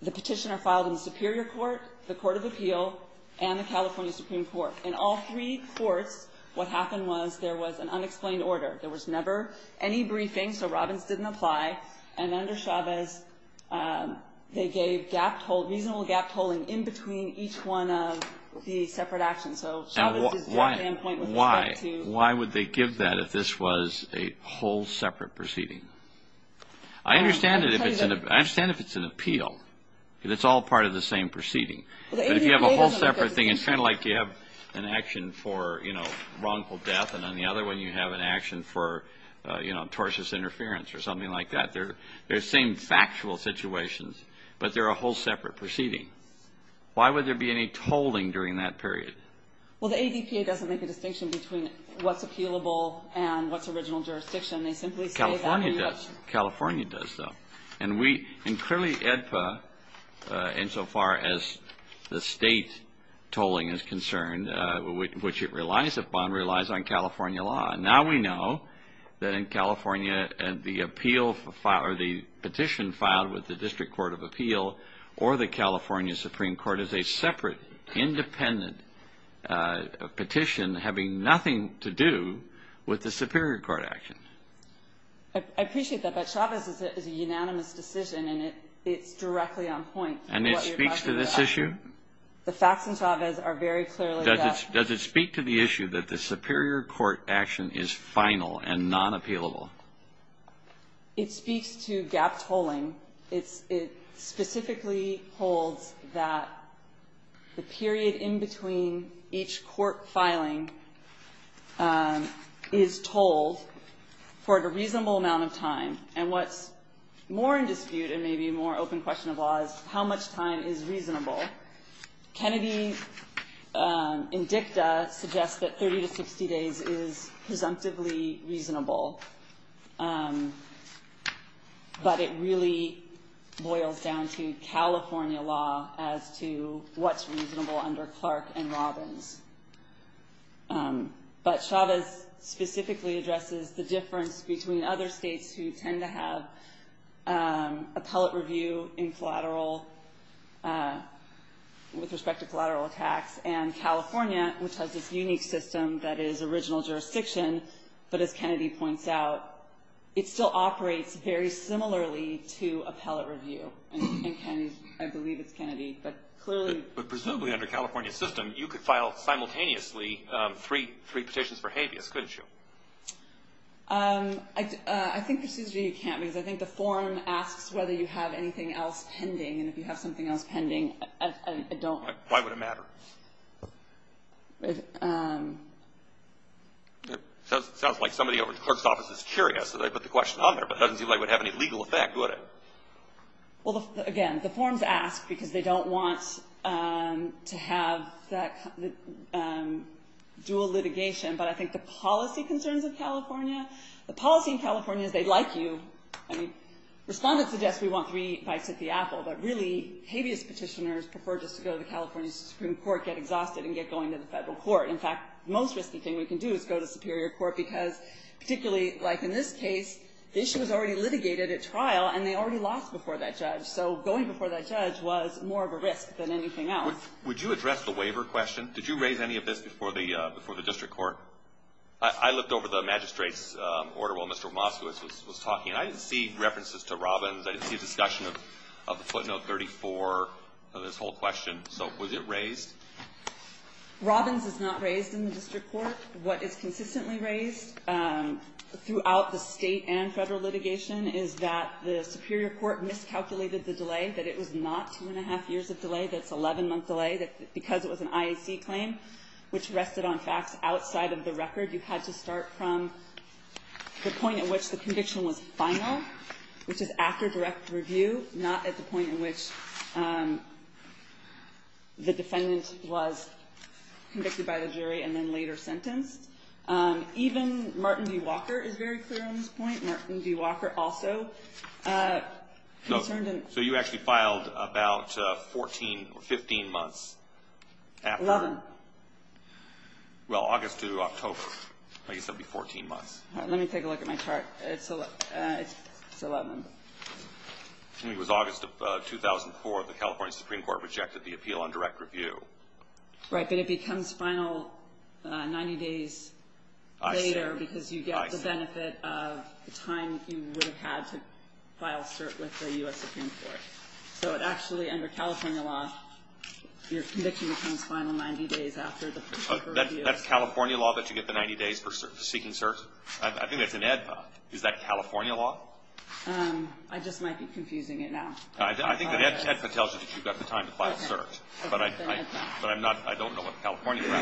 The petitioner filed in the Superior Court, the Court of Appeal, and the California Supreme Court. In all three courts, what happened was there was an unexplained order. There was never any briefing, so Robbins didn't apply. And under Chavez, they gave reasonable gaps holding in between each one of the separate actions. Why would they give that if this was a whole separate proceeding? I understand if it's an appeal because it's all part of the same proceeding. But if you have a whole separate thing, it's kind of like you have an action for wrongful death, and on the other one you have an action for tortious interference or something like that. They're the same factual situations, but they're a whole separate proceeding. Why would there be any tolling during that period? Well, the ADTA doesn't make a distinction between what's appealable and what's original jurisdiction. California does, though. And clearly, EDPA, insofar as the state tolling is concerned, which it relies upon, relies on California law. Now we know that in California, the petition filed with the District Court of Appeal or the California Supreme Court is a separate, independent petition having nothing to do with the Superior Court actions. I appreciate that, but Chavez is a unanimous decision, and it's directly on point. And it speaks to this issue? The facts in Chavez are very clearly set. Does it speak to the issue that the Superior Court action is final and non-appealable? It speaks to gap tolling. It specifically holds that the period in between each court filing is tolled for a reasonable amount of time. And what's more in dispute and maybe a more open question of law is how much time is reasonable. Kennedy and DICTA suggest that 30 to 60 days is presumptively reasonable. But it really boils down to California law as to what's reasonable under Clark and Robbins. But Chavez specifically addresses the difference between other states who tend to have appellate review with respect to collateral attacks and California, which has this unique system that is original jurisdiction. But as Kennedy points out, it still operates very similarly to appellate review. I believe it's Kennedy. But presumably under California's system, you could file simultaneously three petitions for Chavez, couldn't you? I think the procedure you can't use. I think the form asks whether you have anything else pending, and if you have something else pending, I don't. Why would it matter? It sounds like somebody over at the clerk's office is curious, so they put the question on there, but it doesn't seem like it would have any legal effect, would it? Well, again, the form asks because they don't want to have that dual litigation. But I think the policy concerns of California. The policy in California is they like you. Respondents suggest we want three bites at the apple, but really, Chavez petitioners prefer just to go to the California Supreme Court, get exhausted, and get going to the federal court. In fact, the most risky thing we can do is go to the superior court because particularly, like in this case, the issue was already litigated at trial, and they already lost before that judge. So going before that judge was more of a risk than anything else. Would you address the waiver question? Did you raise any of this before the district court? I looked over the magistrate's order while Mr. Moskowitz was talking. I didn't see references to Robbins. I didn't see discussion of footnote 34 of this whole question. So was it raised? Robbins is not raised in the district court. What is consistently raised throughout the state and federal litigation is that the superior court miscalculated the delay, that it was not two-and-a-half years of delay, that it's 11 months delay, that because it was an IAC claim, which rested on facts outside of the record, you had to start from the point at which the conviction was final, which is after direct review, not at the point in which the defendant was convicted by the jury and then later sentenced. Even Martin D. Walker is very clear on this point. Martin D. Walker also. So you actually filed about 14, 15 months after? 11. Well, August through October, I guess that would be 14 months. Let me take a look at my chart. It's 11. It was August of 2004. The California Supreme Court rejected the appeal on direct review. Right, but it becomes final 90 days later because you get the benefit of the time you would have had to file cert with the U.S. Supreme Court. So it actually, under California law, your conviction becomes final 90 days after the specific review. Is that California law that you get the 90 days for seeking certs? I think it's in AEDPA. Is that California law? I just might be confusing it now. I think that AEDPA tells you that you've got the time to file certs, but I don't know what California law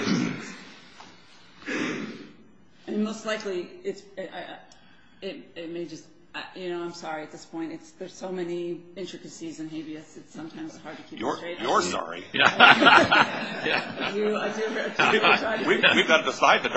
is. And most likely, it may just – you know, I'm sorry at this point. There's so many intricacies and habeas that sometimes it's hard to keep up with. You're sorry. We've got to decide the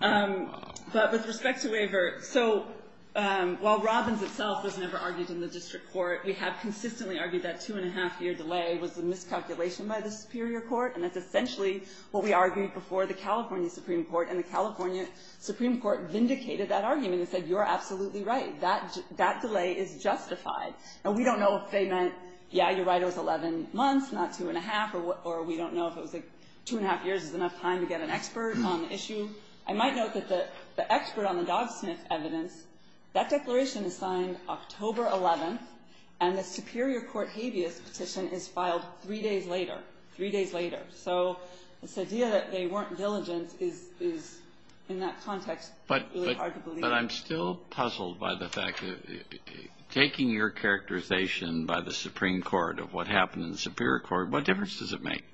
time. But with respect to Waiver, so while Robbins itself was never argued in the district court, we have consistently argued that two-and-a-half-year delay was a miscalculation by the superior court, and that's essentially what we argued before the California Supreme Court, and the California Supreme Court vindicated that argument and said, you're absolutely right. That delay is justified. And we don't know if they meant, yeah, you're right, it was 11 months, not two-and-a-half, or we don't know if two-and-a-half years is enough time to get an expert on the issue. I might note that the expert on the dog sniff evidence, that declaration is signed October 11th, and the superior court habeas petition is filed three days later, three days later. So the idea that they weren't diligent is, in that context, really hard to believe. But I'm still puzzled by the fact that taking your characterization by the Supreme Court of what happened in the superior court, what difference does it make?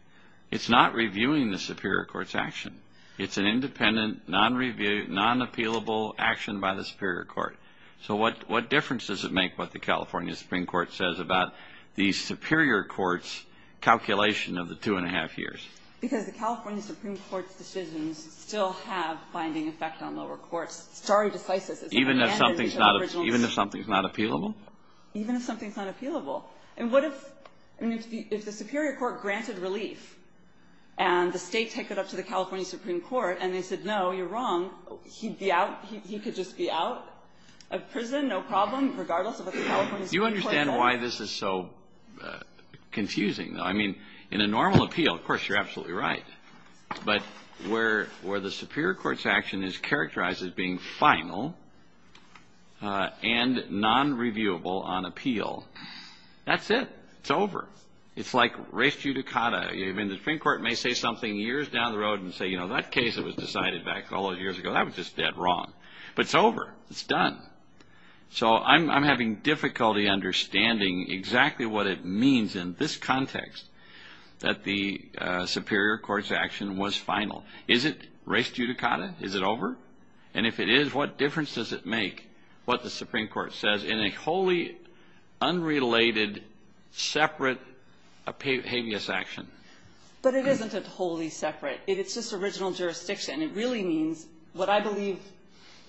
It's not reviewing the superior court's action. It's an independent, non-reviewed, non-appealable action by the superior court. So what difference does it make what the California Supreme Court says about the superior court's calculation of the two-and-a-half years? Because the California Supreme Court's decisions still have binding effects on lower courts. Even if something's not appealable? Even if something's not appealable. And what if the superior court granted relief, and the state took it up to the California Supreme Court, and they said, no, you're wrong, he could just be out of prison, no problem, regardless of what the California Supreme Court says. Do you understand why this is so confusing? I mean, in a normal appeal, of course, you're absolutely right. But where the superior court's action is characterized as being final and non-reviewable on appeal, that's it. It's over. It's like res judicata. Even the Supreme Court may say something years down the road and say, you know, that case was decided back all those years ago. That was just dead wrong. But it's over. It's done. So I'm having difficulty understanding exactly what it means in this context, that the superior court's action was final. Is it res judicata? Is it over? And if it is, what difference does it make, what the Supreme Court says, in a wholly unrelated separate habeas action? But it isn't just wholly separate. It's just original jurisdiction. What I believe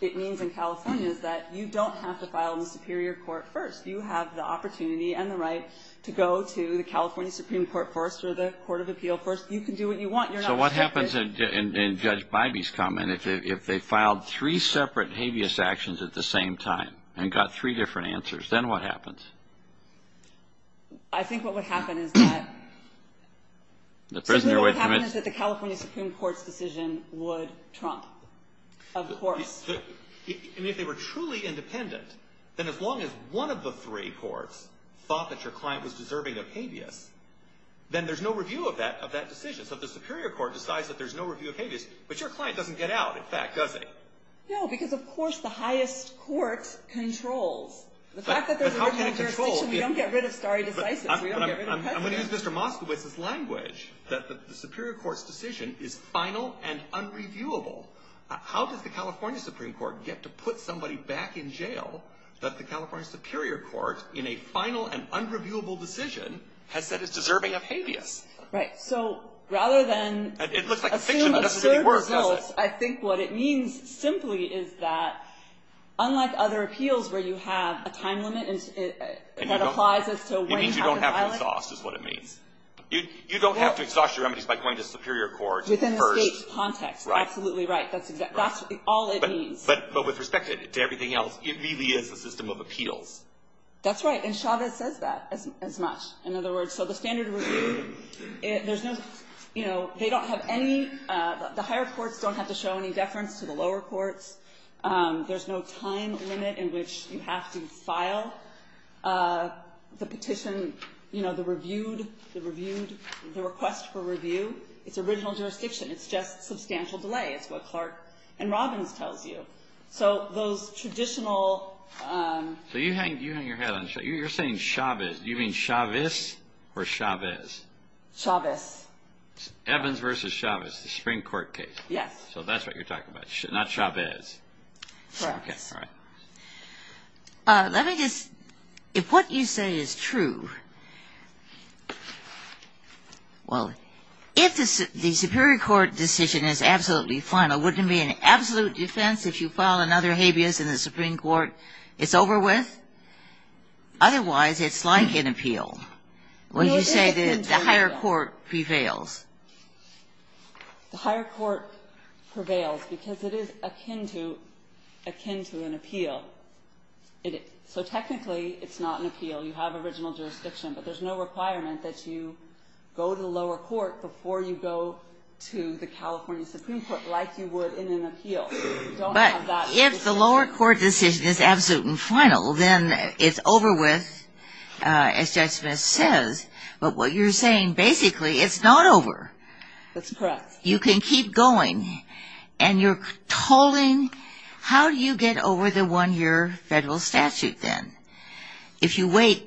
it means in California is that you don't have to file the superior court first. You have the opportunity and the right to go to the California Supreme Court first or the Court of Appeal first. You can do what you want. So what happens in Judge Bidey's comment, if they filed three separate habeas actions at the same time and got three different answers, then what happens? I think what would happen is that the California Supreme Court's decision would trump a court. And if they were truly independent, then as long as one of the three courts thought that your client was deserving of habeas, then there's no review of that decision. So the superior court decides that there's no review of habeas, but your client doesn't get out, in fact, does he? No, because, of course, the highest court controls. The fact that there's no review of habeas means that we don't get rid of stare decisis. We don't get rid of precedent. I'm going to use Mr. Moskowitz's language, that the superior court's decision is final and unreviewable. How does the California Supreme Court get to put somebody back in jail that the California Superior Court, in a final and unreviewable decision, has said it's deserving of habeas? Right. So rather than assume a clear result, I think what it means simply is that, unlike other appeals where you have a time limit that applies as to when you have to file it. It means you don't have to exhaust, is what it means. You don't have to exhaust your remedies by going to the superior court first. Within the state's context. Right. Absolutely right. That's all it means. But with respect to everything else, it really is a system of appeals. That's right. And Chavez says that as much. In other words, so the standard review, there's no, you know, they don't have any, the higher courts don't have to show any deference to the lower courts. There's no time limit in which you have to file the petition, you know, the reviewed, the reviewed, the request for review. It's original jurisdiction. It's just substantial delay. It's what Clark and Robbins tells you. So those traditional. So you hang your head on Chavez. You're saying Chavez. Do you mean Chavez or Chavez? Chavez. Evans versus Chavez, the Supreme Court case. Yes. So that's what you're talking about. Not Chavez. Sure. Okay. All right. Let me just, if what you say is true, well, if the superior court decision is absolutely final, wouldn't it be an absolute defense if you file another habeas and the Supreme Court is over with? Otherwise, it's like an appeal. When you say that the higher court prevails. The higher court prevails because it is akin to an appeal. So technically, it's not an appeal. You have original jurisdiction. But there's no requirement that you go to the lower court before you go to the California Supreme Court, like you would in an appeal. But if the lower court decision is absolute and final, then it's over with, as Justice says. But what you're saying basically, it's not over. That's correct. You can keep going. And you're tolling. How do you get over the one-year federal statute then? If you wait,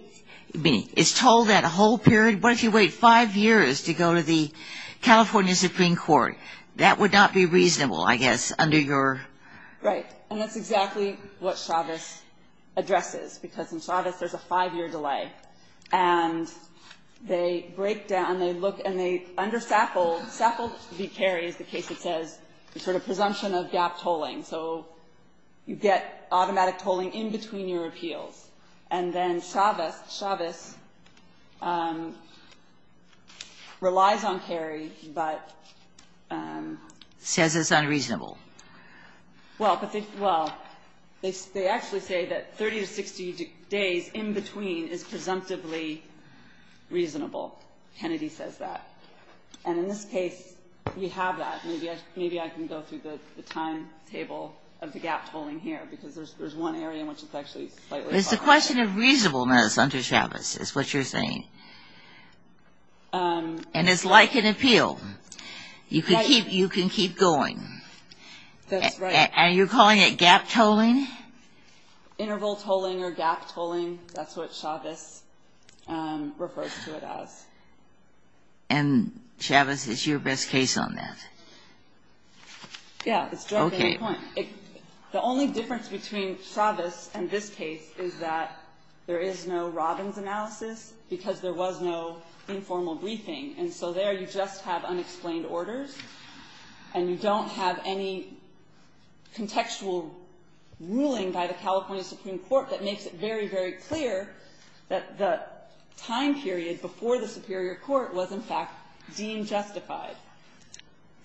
I mean, it's tolled that whole period. What if you wait five years to go to the California Supreme Court? That would not be reasonable, I guess, under your. Right. And that's exactly what Chavez addresses. Because in Chavez, there's a five-year delay. And they break down. They look, and they understaffle. Staffle should be carried, as the case says, for the presumption of gap tolling. So you get automatic tolling in between your appeals. And then Chavez relies on carry, but says it's unreasonable. Well, they actually say that 30 to 60 days in between is presumptively reasonable. Kennedy says that. And in this case, you have that. Maybe I can go through the timetable of the gap tolling here. It's a question of reasonableness under Chavez, is what you're saying. And it's like an appeal. You can keep going. And you're calling it gap tolling? Interval tolling or gap tolling. That's what Chavez refers to it as. And Chavez is your best case on that. Yeah. The only difference between Chavez and this case is that there is no Robbins analysis, because there was no informal briefing. And so there you just have unexplained orders. And you don't have any contextual ruling by the California Supreme Court that makes it very, very clear that the time period before the Superior Court was, in fact, being justified.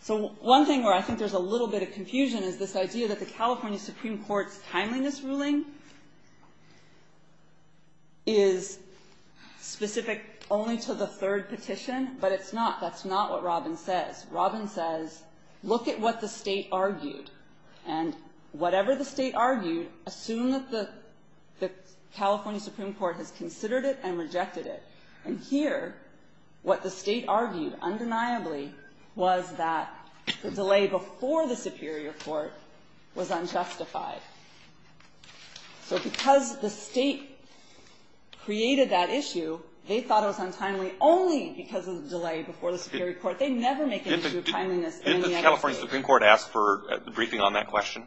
So one thing where I think there's a little bit of confusion is this idea that the California Supreme Court's timeliness ruling is specific only to the third petition. But it's not. That's not what Robbins says. Robbins says, look at what the state argued. And whatever the state argued, assume that the California Supreme Court has considered it and rejected it. And here, what the state argued undeniably was that the delay before the Superior Court was unjustified. So because the state created that issue, they thought it was untimely only because of the delay before the Superior Court. They never make an issue of timeliness in the next case. Didn't the California Supreme Court ask for a briefing on that question?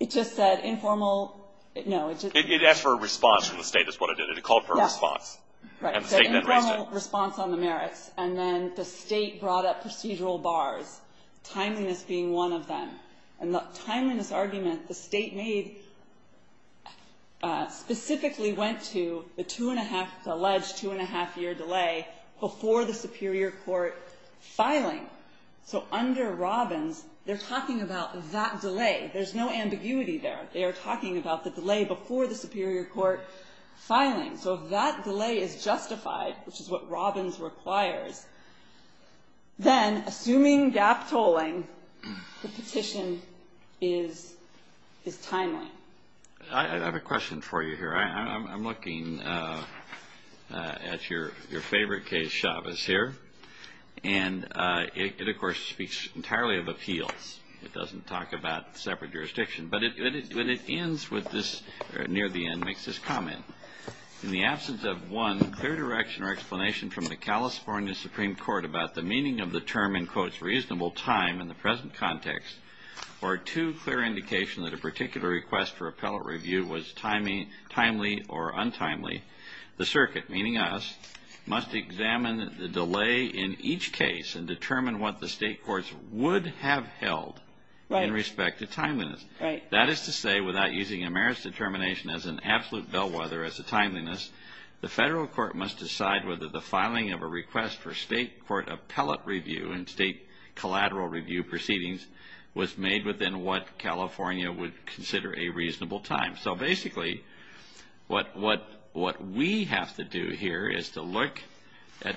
It just said informal – no. It asked for a response from the state. That's what it did. It called for a response. Right. So informal response on the merits. And then the state brought up procedural bars, timeliness being one of them. And the timeliness arguments the state made specifically went to the alleged two-and-a-half-year delay before the Superior Court filing. So under Robbins, they're talking about that delay. There's no ambiguity there. They're talking about the delay before the Superior Court filing. So if that delay is justified, which is what Robbins required, then assuming gap tolling, the decision is timely. I have a question for you here. I'm looking at your favorite case, Chavez, here, and it, of course, speaks entirely of appeals. It doesn't talk about separate jurisdiction. But when it ends near the end, it makes this comment. In the absence of one clear direction or explanation from the California Supreme Court about the meaning of the term in quotes reasonable time in the present context or two clear indications that a particular request for appellate review was timely or untimely, the circuit, meaning us, must examine the delay in each case and determine what the state courts would have held in respect to timeliness. That is to say, without using a merits determination as an absolute bellwether as a timeliness, the federal court must decide whether the filing of a request for state court appellate review and state collateral review proceedings was made within what California would consider a reasonable time. So basically, what we have to do here is to look at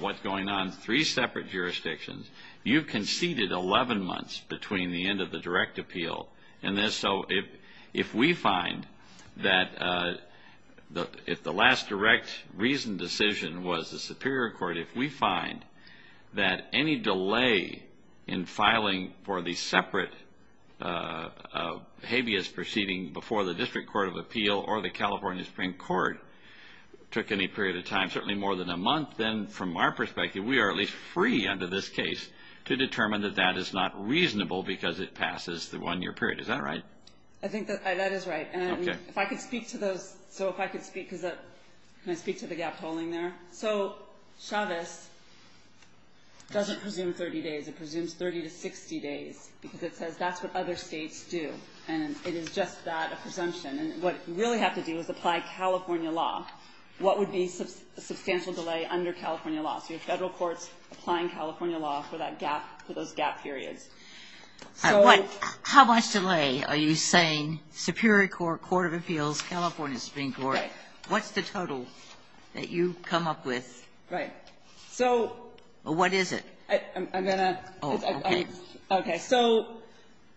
what's going on in three separate jurisdictions. You conceded 11 months between the end of the direct appeal. And so if we find that if the last direct reasoned decision was the Superior Court, if we find that any delay in filing for the separate habeas proceeding before the District Court of Appeal or the California Supreme Court took any period of time, certainly more than a month, then from our perspective we are at least free under this case to determine that that is not reasonable because it passes the one-year period. Is that right? I think that is right. And if I could speak to the gap polling there. So Chavez doesn't presume 30 days. It presumes 30 to 60 days because it says that's what other states do. And it is just that, a presumption. And what you really have to do is apply California law. What would be a substantial delay under California law? Do you have federal courts applying California law for those gap periods? How much delay are you saying, Superior Court, Court of Appeals, California Supreme Court? What's the total that you've come up with? Right. What is it? I'm going to... Okay. So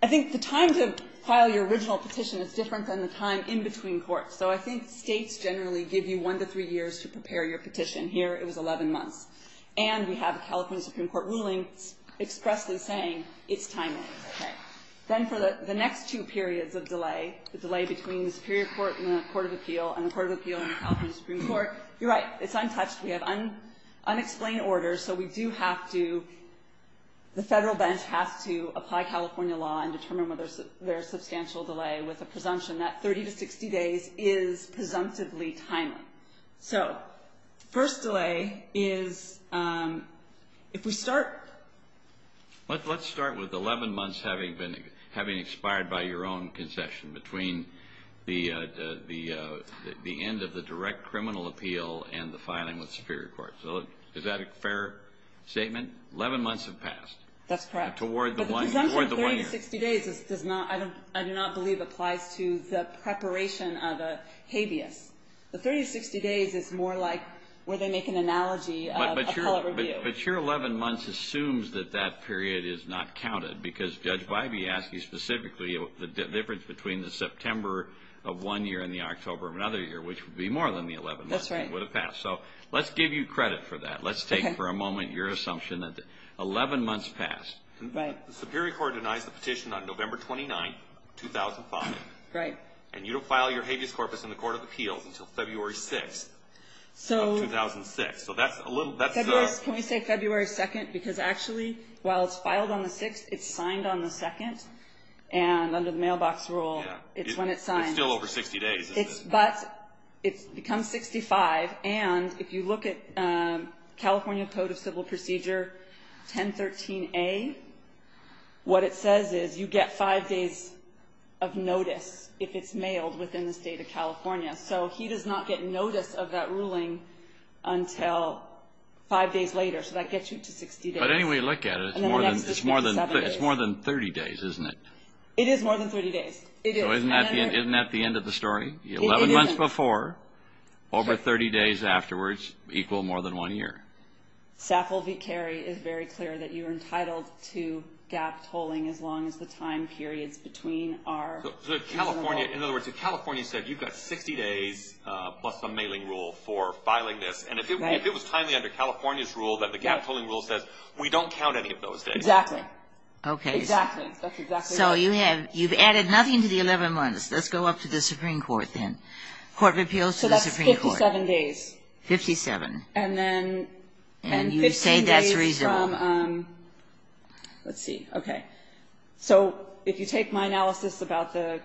I think the time to file your original petition is different from the time in between courts. So I think states generally give you one to three years to prepare your petition. Here it was 11 months. And we have a California Supreme Court ruling expressly saying it's timely. Okay. Then for the next two periods of delay, the delay between the Superior Court and the Court of Appeal and the Court of Appeal and the California Supreme Court, you're right. It's untouched. We have unexplained orders. So we do have to... The federal bench has to apply California law and determine whether there's a substantial delay with a presumption that 30 to 60 days is presumptively timely. Okay. So first delay is if we start... Let's start with 11 months having expired by your own concession between the end of the direct criminal appeal and the filing with Superior Court. So is that a fair statement? 11 months have passed. That's correct. But the presumption of 30 to 60 days, I do not believe, applies to the preparation of a habeas. So 30 to 60 days is more like where they make an analogy of a court review. But your 11 months assumes that that period is not counted because Judge Bybee asked you specifically the difference between the September of one year and the October of another year, which would be more than the 11 months. That's right. It would have passed. So let's give you credit for that. Let's take for a moment your assumption that 11 months passed. Right. The Superior Court denies the petition on November 29, 2005. Right. And you don't file your habeas corpus in the Court of Appeals until February 6, 2006. So that's a little... Can we say February 2nd? Because actually, while it's filed on the 6th, it's signed on the 2nd. And under the mailbox rule, it's when it's signed. It's still over 60 days. But it becomes 65. And if you look at California Code of Civil Procedure 1013A, what it says is you get five days of notice if it's mailed within the state of California. So he does not get notice of that ruling until five days later. So that gets you to 60 days. But anyway, look at it. It's more than 30 days, isn't it? It is more than 30 days. It is. So isn't that the end of the story? The 11 months before, over 30 days afterwards equal more than one year. Saffold v. Carey is very clear that you're entitled to gap tolling as long as the time period between our... So California... In other words, if California says you've got 60 days plus a mailing rule for filing this... Right. ...and if it was timely under California's rules and the gap tolling rule says we don't count any of those days... Exactly. Okay. Exactly. That's exactly... So you have... You've added nothing to the 11 months. Let's go up to the Supreme Court then. Court of Appeals to the Supreme Court. So that's 57 days. Fifty-seven. And then 15 days from... And you say that's reasonable. Let's see. Okay. So if you take my analysis about the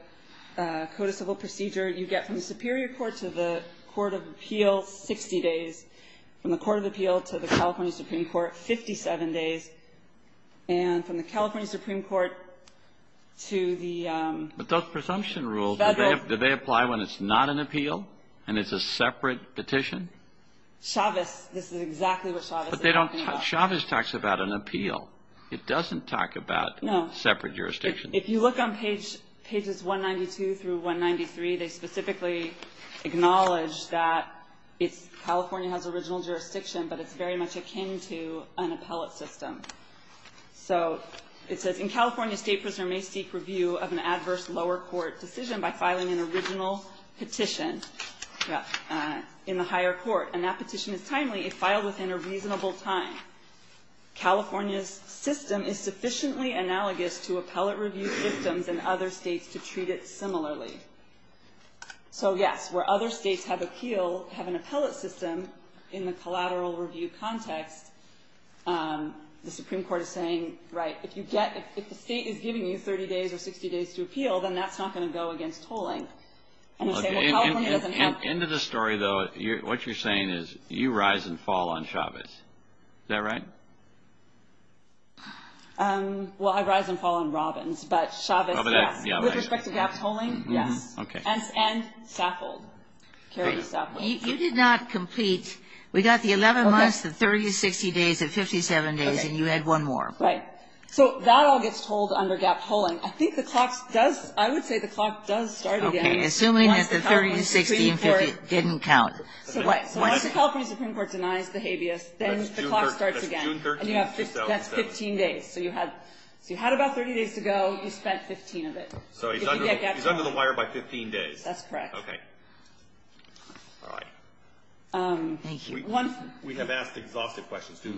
Code of Civil Procedure, you get from the Superior Court to the Court of Appeals, 60 days, from the Court of Appeals to the California Supreme Court, 57 days, and from the California Supreme Court to the... But those presumption rules, do they apply when it's not an appeal and it's a separate petition? Chavez, this is exactly what Chavez is talking about. But they don't... Chavez talks about an appeal. It doesn't talk about... No. ...separate jurisdictions. If you look on pages 192 through 193, they specifically acknowledge that California has original jurisdiction, but it's very much akin to an appellate system. So it says, in California, state prisoners may seek review of an adverse lower court decision by filing an original petition in the higher court. And that petition is timely. It's filed within a reasonable time. California's system is sufficiently analogous to appellate review systems in other states to treat it similarly. So yes, where other states have appeals, have an appellate system in the collateral review context, the Supreme Court is saying, right, if you get... and that's not going to go against tolling. Into the story, though, what you're saying is you rise and fall on Chavez. Is that right? Well, I rise and fall on Robbins, but Chavez, yeah. With respect to gap tolling, yeah. Okay. And scaffold. You did not complete... We got the 11 months, the 30 to 60 days, the 57 days, and you had one more. Right. So that all gets told under gap tolling. I think the clock does... I would say the clock does start again. Okay. Assuming that the 30, 60, and 50 didn't count. Once the California Supreme Court denies the habeas, then the clock starts again. That's June 13, 2007. That's 15 days. So you had about 30 days to go. You spent 15 of it. So he's under the wire by 15 days. That's correct. Okay. All right. Thank you. We have asked exhaustive questions. Do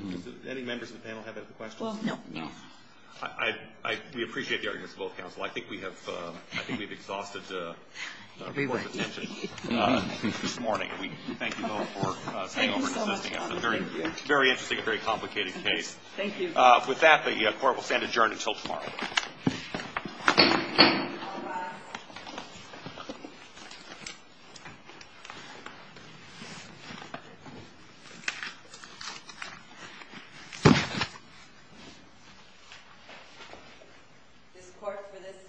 any members of the panel have any questions? Well, no. No. We appreciate the arguments of both counsel. I think we have exhausted the court's attention this morning. We thank you all for coming over and discussing this very interesting and very complicated case. Thank you. With that, the court will stand adjourned until tomorrow. The court for this session stands adjourned.